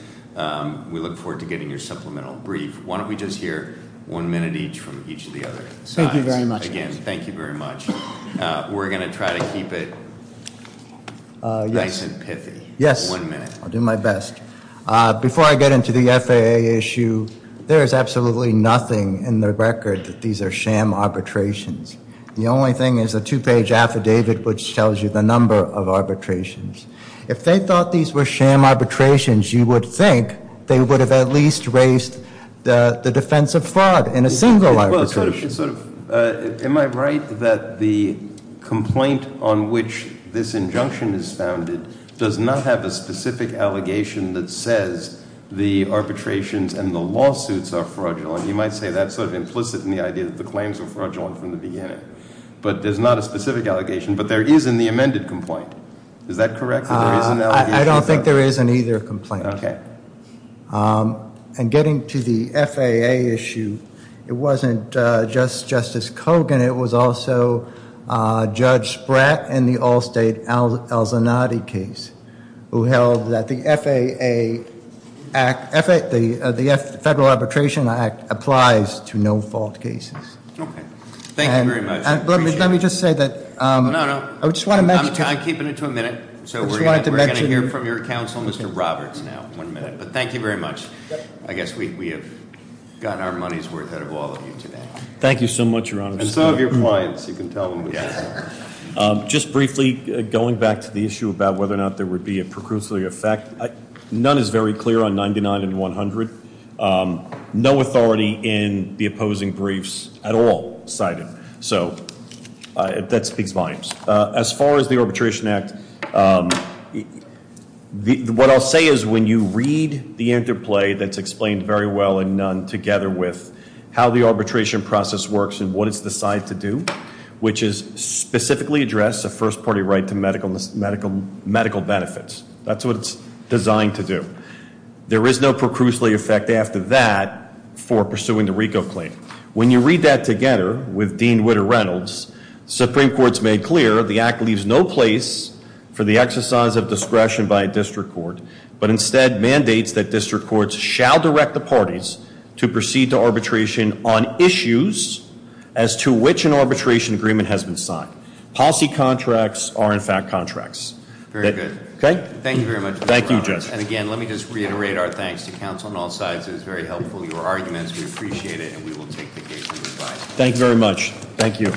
We look forward to getting your supplemental brief. Why don't we just hear one minute each from each of the other sides. Thank you very much. Again, thank you very much. We're going to try to keep it nice and pithy. Yes. One minute. I'll do my best. Before I get into the FAA issue, there is absolutely nothing in the record that these are sham arbitrations. The only thing is a two page affidavit which tells you the number of arbitrations. If they thought these were sham arbitrations, you would think they would have at least raised the defense of fraud in a single arbitration. Am I right that the complaint on which this injunction is founded does not have a specific allegation that says the arbitrations and the lawsuits are fraudulent? You might say that's sort of implicit in the idea that the claims are fraudulent from the beginning. But there's not a specific allegation, but there is in the amended complaint. Is that correct? I don't think there is in either complaint. Okay. And getting to the FAA issue, it wasn't just Justice Kogan, it was also Judge Spratt in the Allstate-Alzanate case who held that the FAA Act, the Federal Arbitration Act applies to no-fault cases. Okay. Thank you very much. Let me just say that- No, no. I'm keeping it to a minute. So we're going to hear from your counsel, Mr. Roberts, now. One minute. Thank you very much. I guess we have gotten our money's worth out of all of you today. Thank you so much, Your Honor. And so have your clients. You can tell them what they want. Just briefly, going back to the issue about whether or not there would be a precursory effect. None is very clear on 99 and 100. No authority in the opposing briefs at all cited. So that speaks volumes. As far as the Arbitration Act, what I'll say is when you read the interplay that's explained very well and none together with how the arbitration process works and what it's decided to do, which is specifically address a first party right to medical benefits. That's what it's designed to do. There is no precursory effect after that for pursuing the RICO claim. When you read that together with Dean Whitter Reynolds, Supreme Court's made clear the act leaves no place for the exercise of discretion by a district court, but instead mandates that district courts shall direct the parties to proceed to arbitration on issues as to which an arbitration agreement has been signed. Policy contracts are in fact contracts. Very good. Okay? Thank you very much, Mr. Roberts. Thank you, Judge. And again, let me just reiterate our thanks to counsel on all sides. It was very helpful, your arguments, we appreciate it, and we will take the case to the side. Thank you very much. Thank you.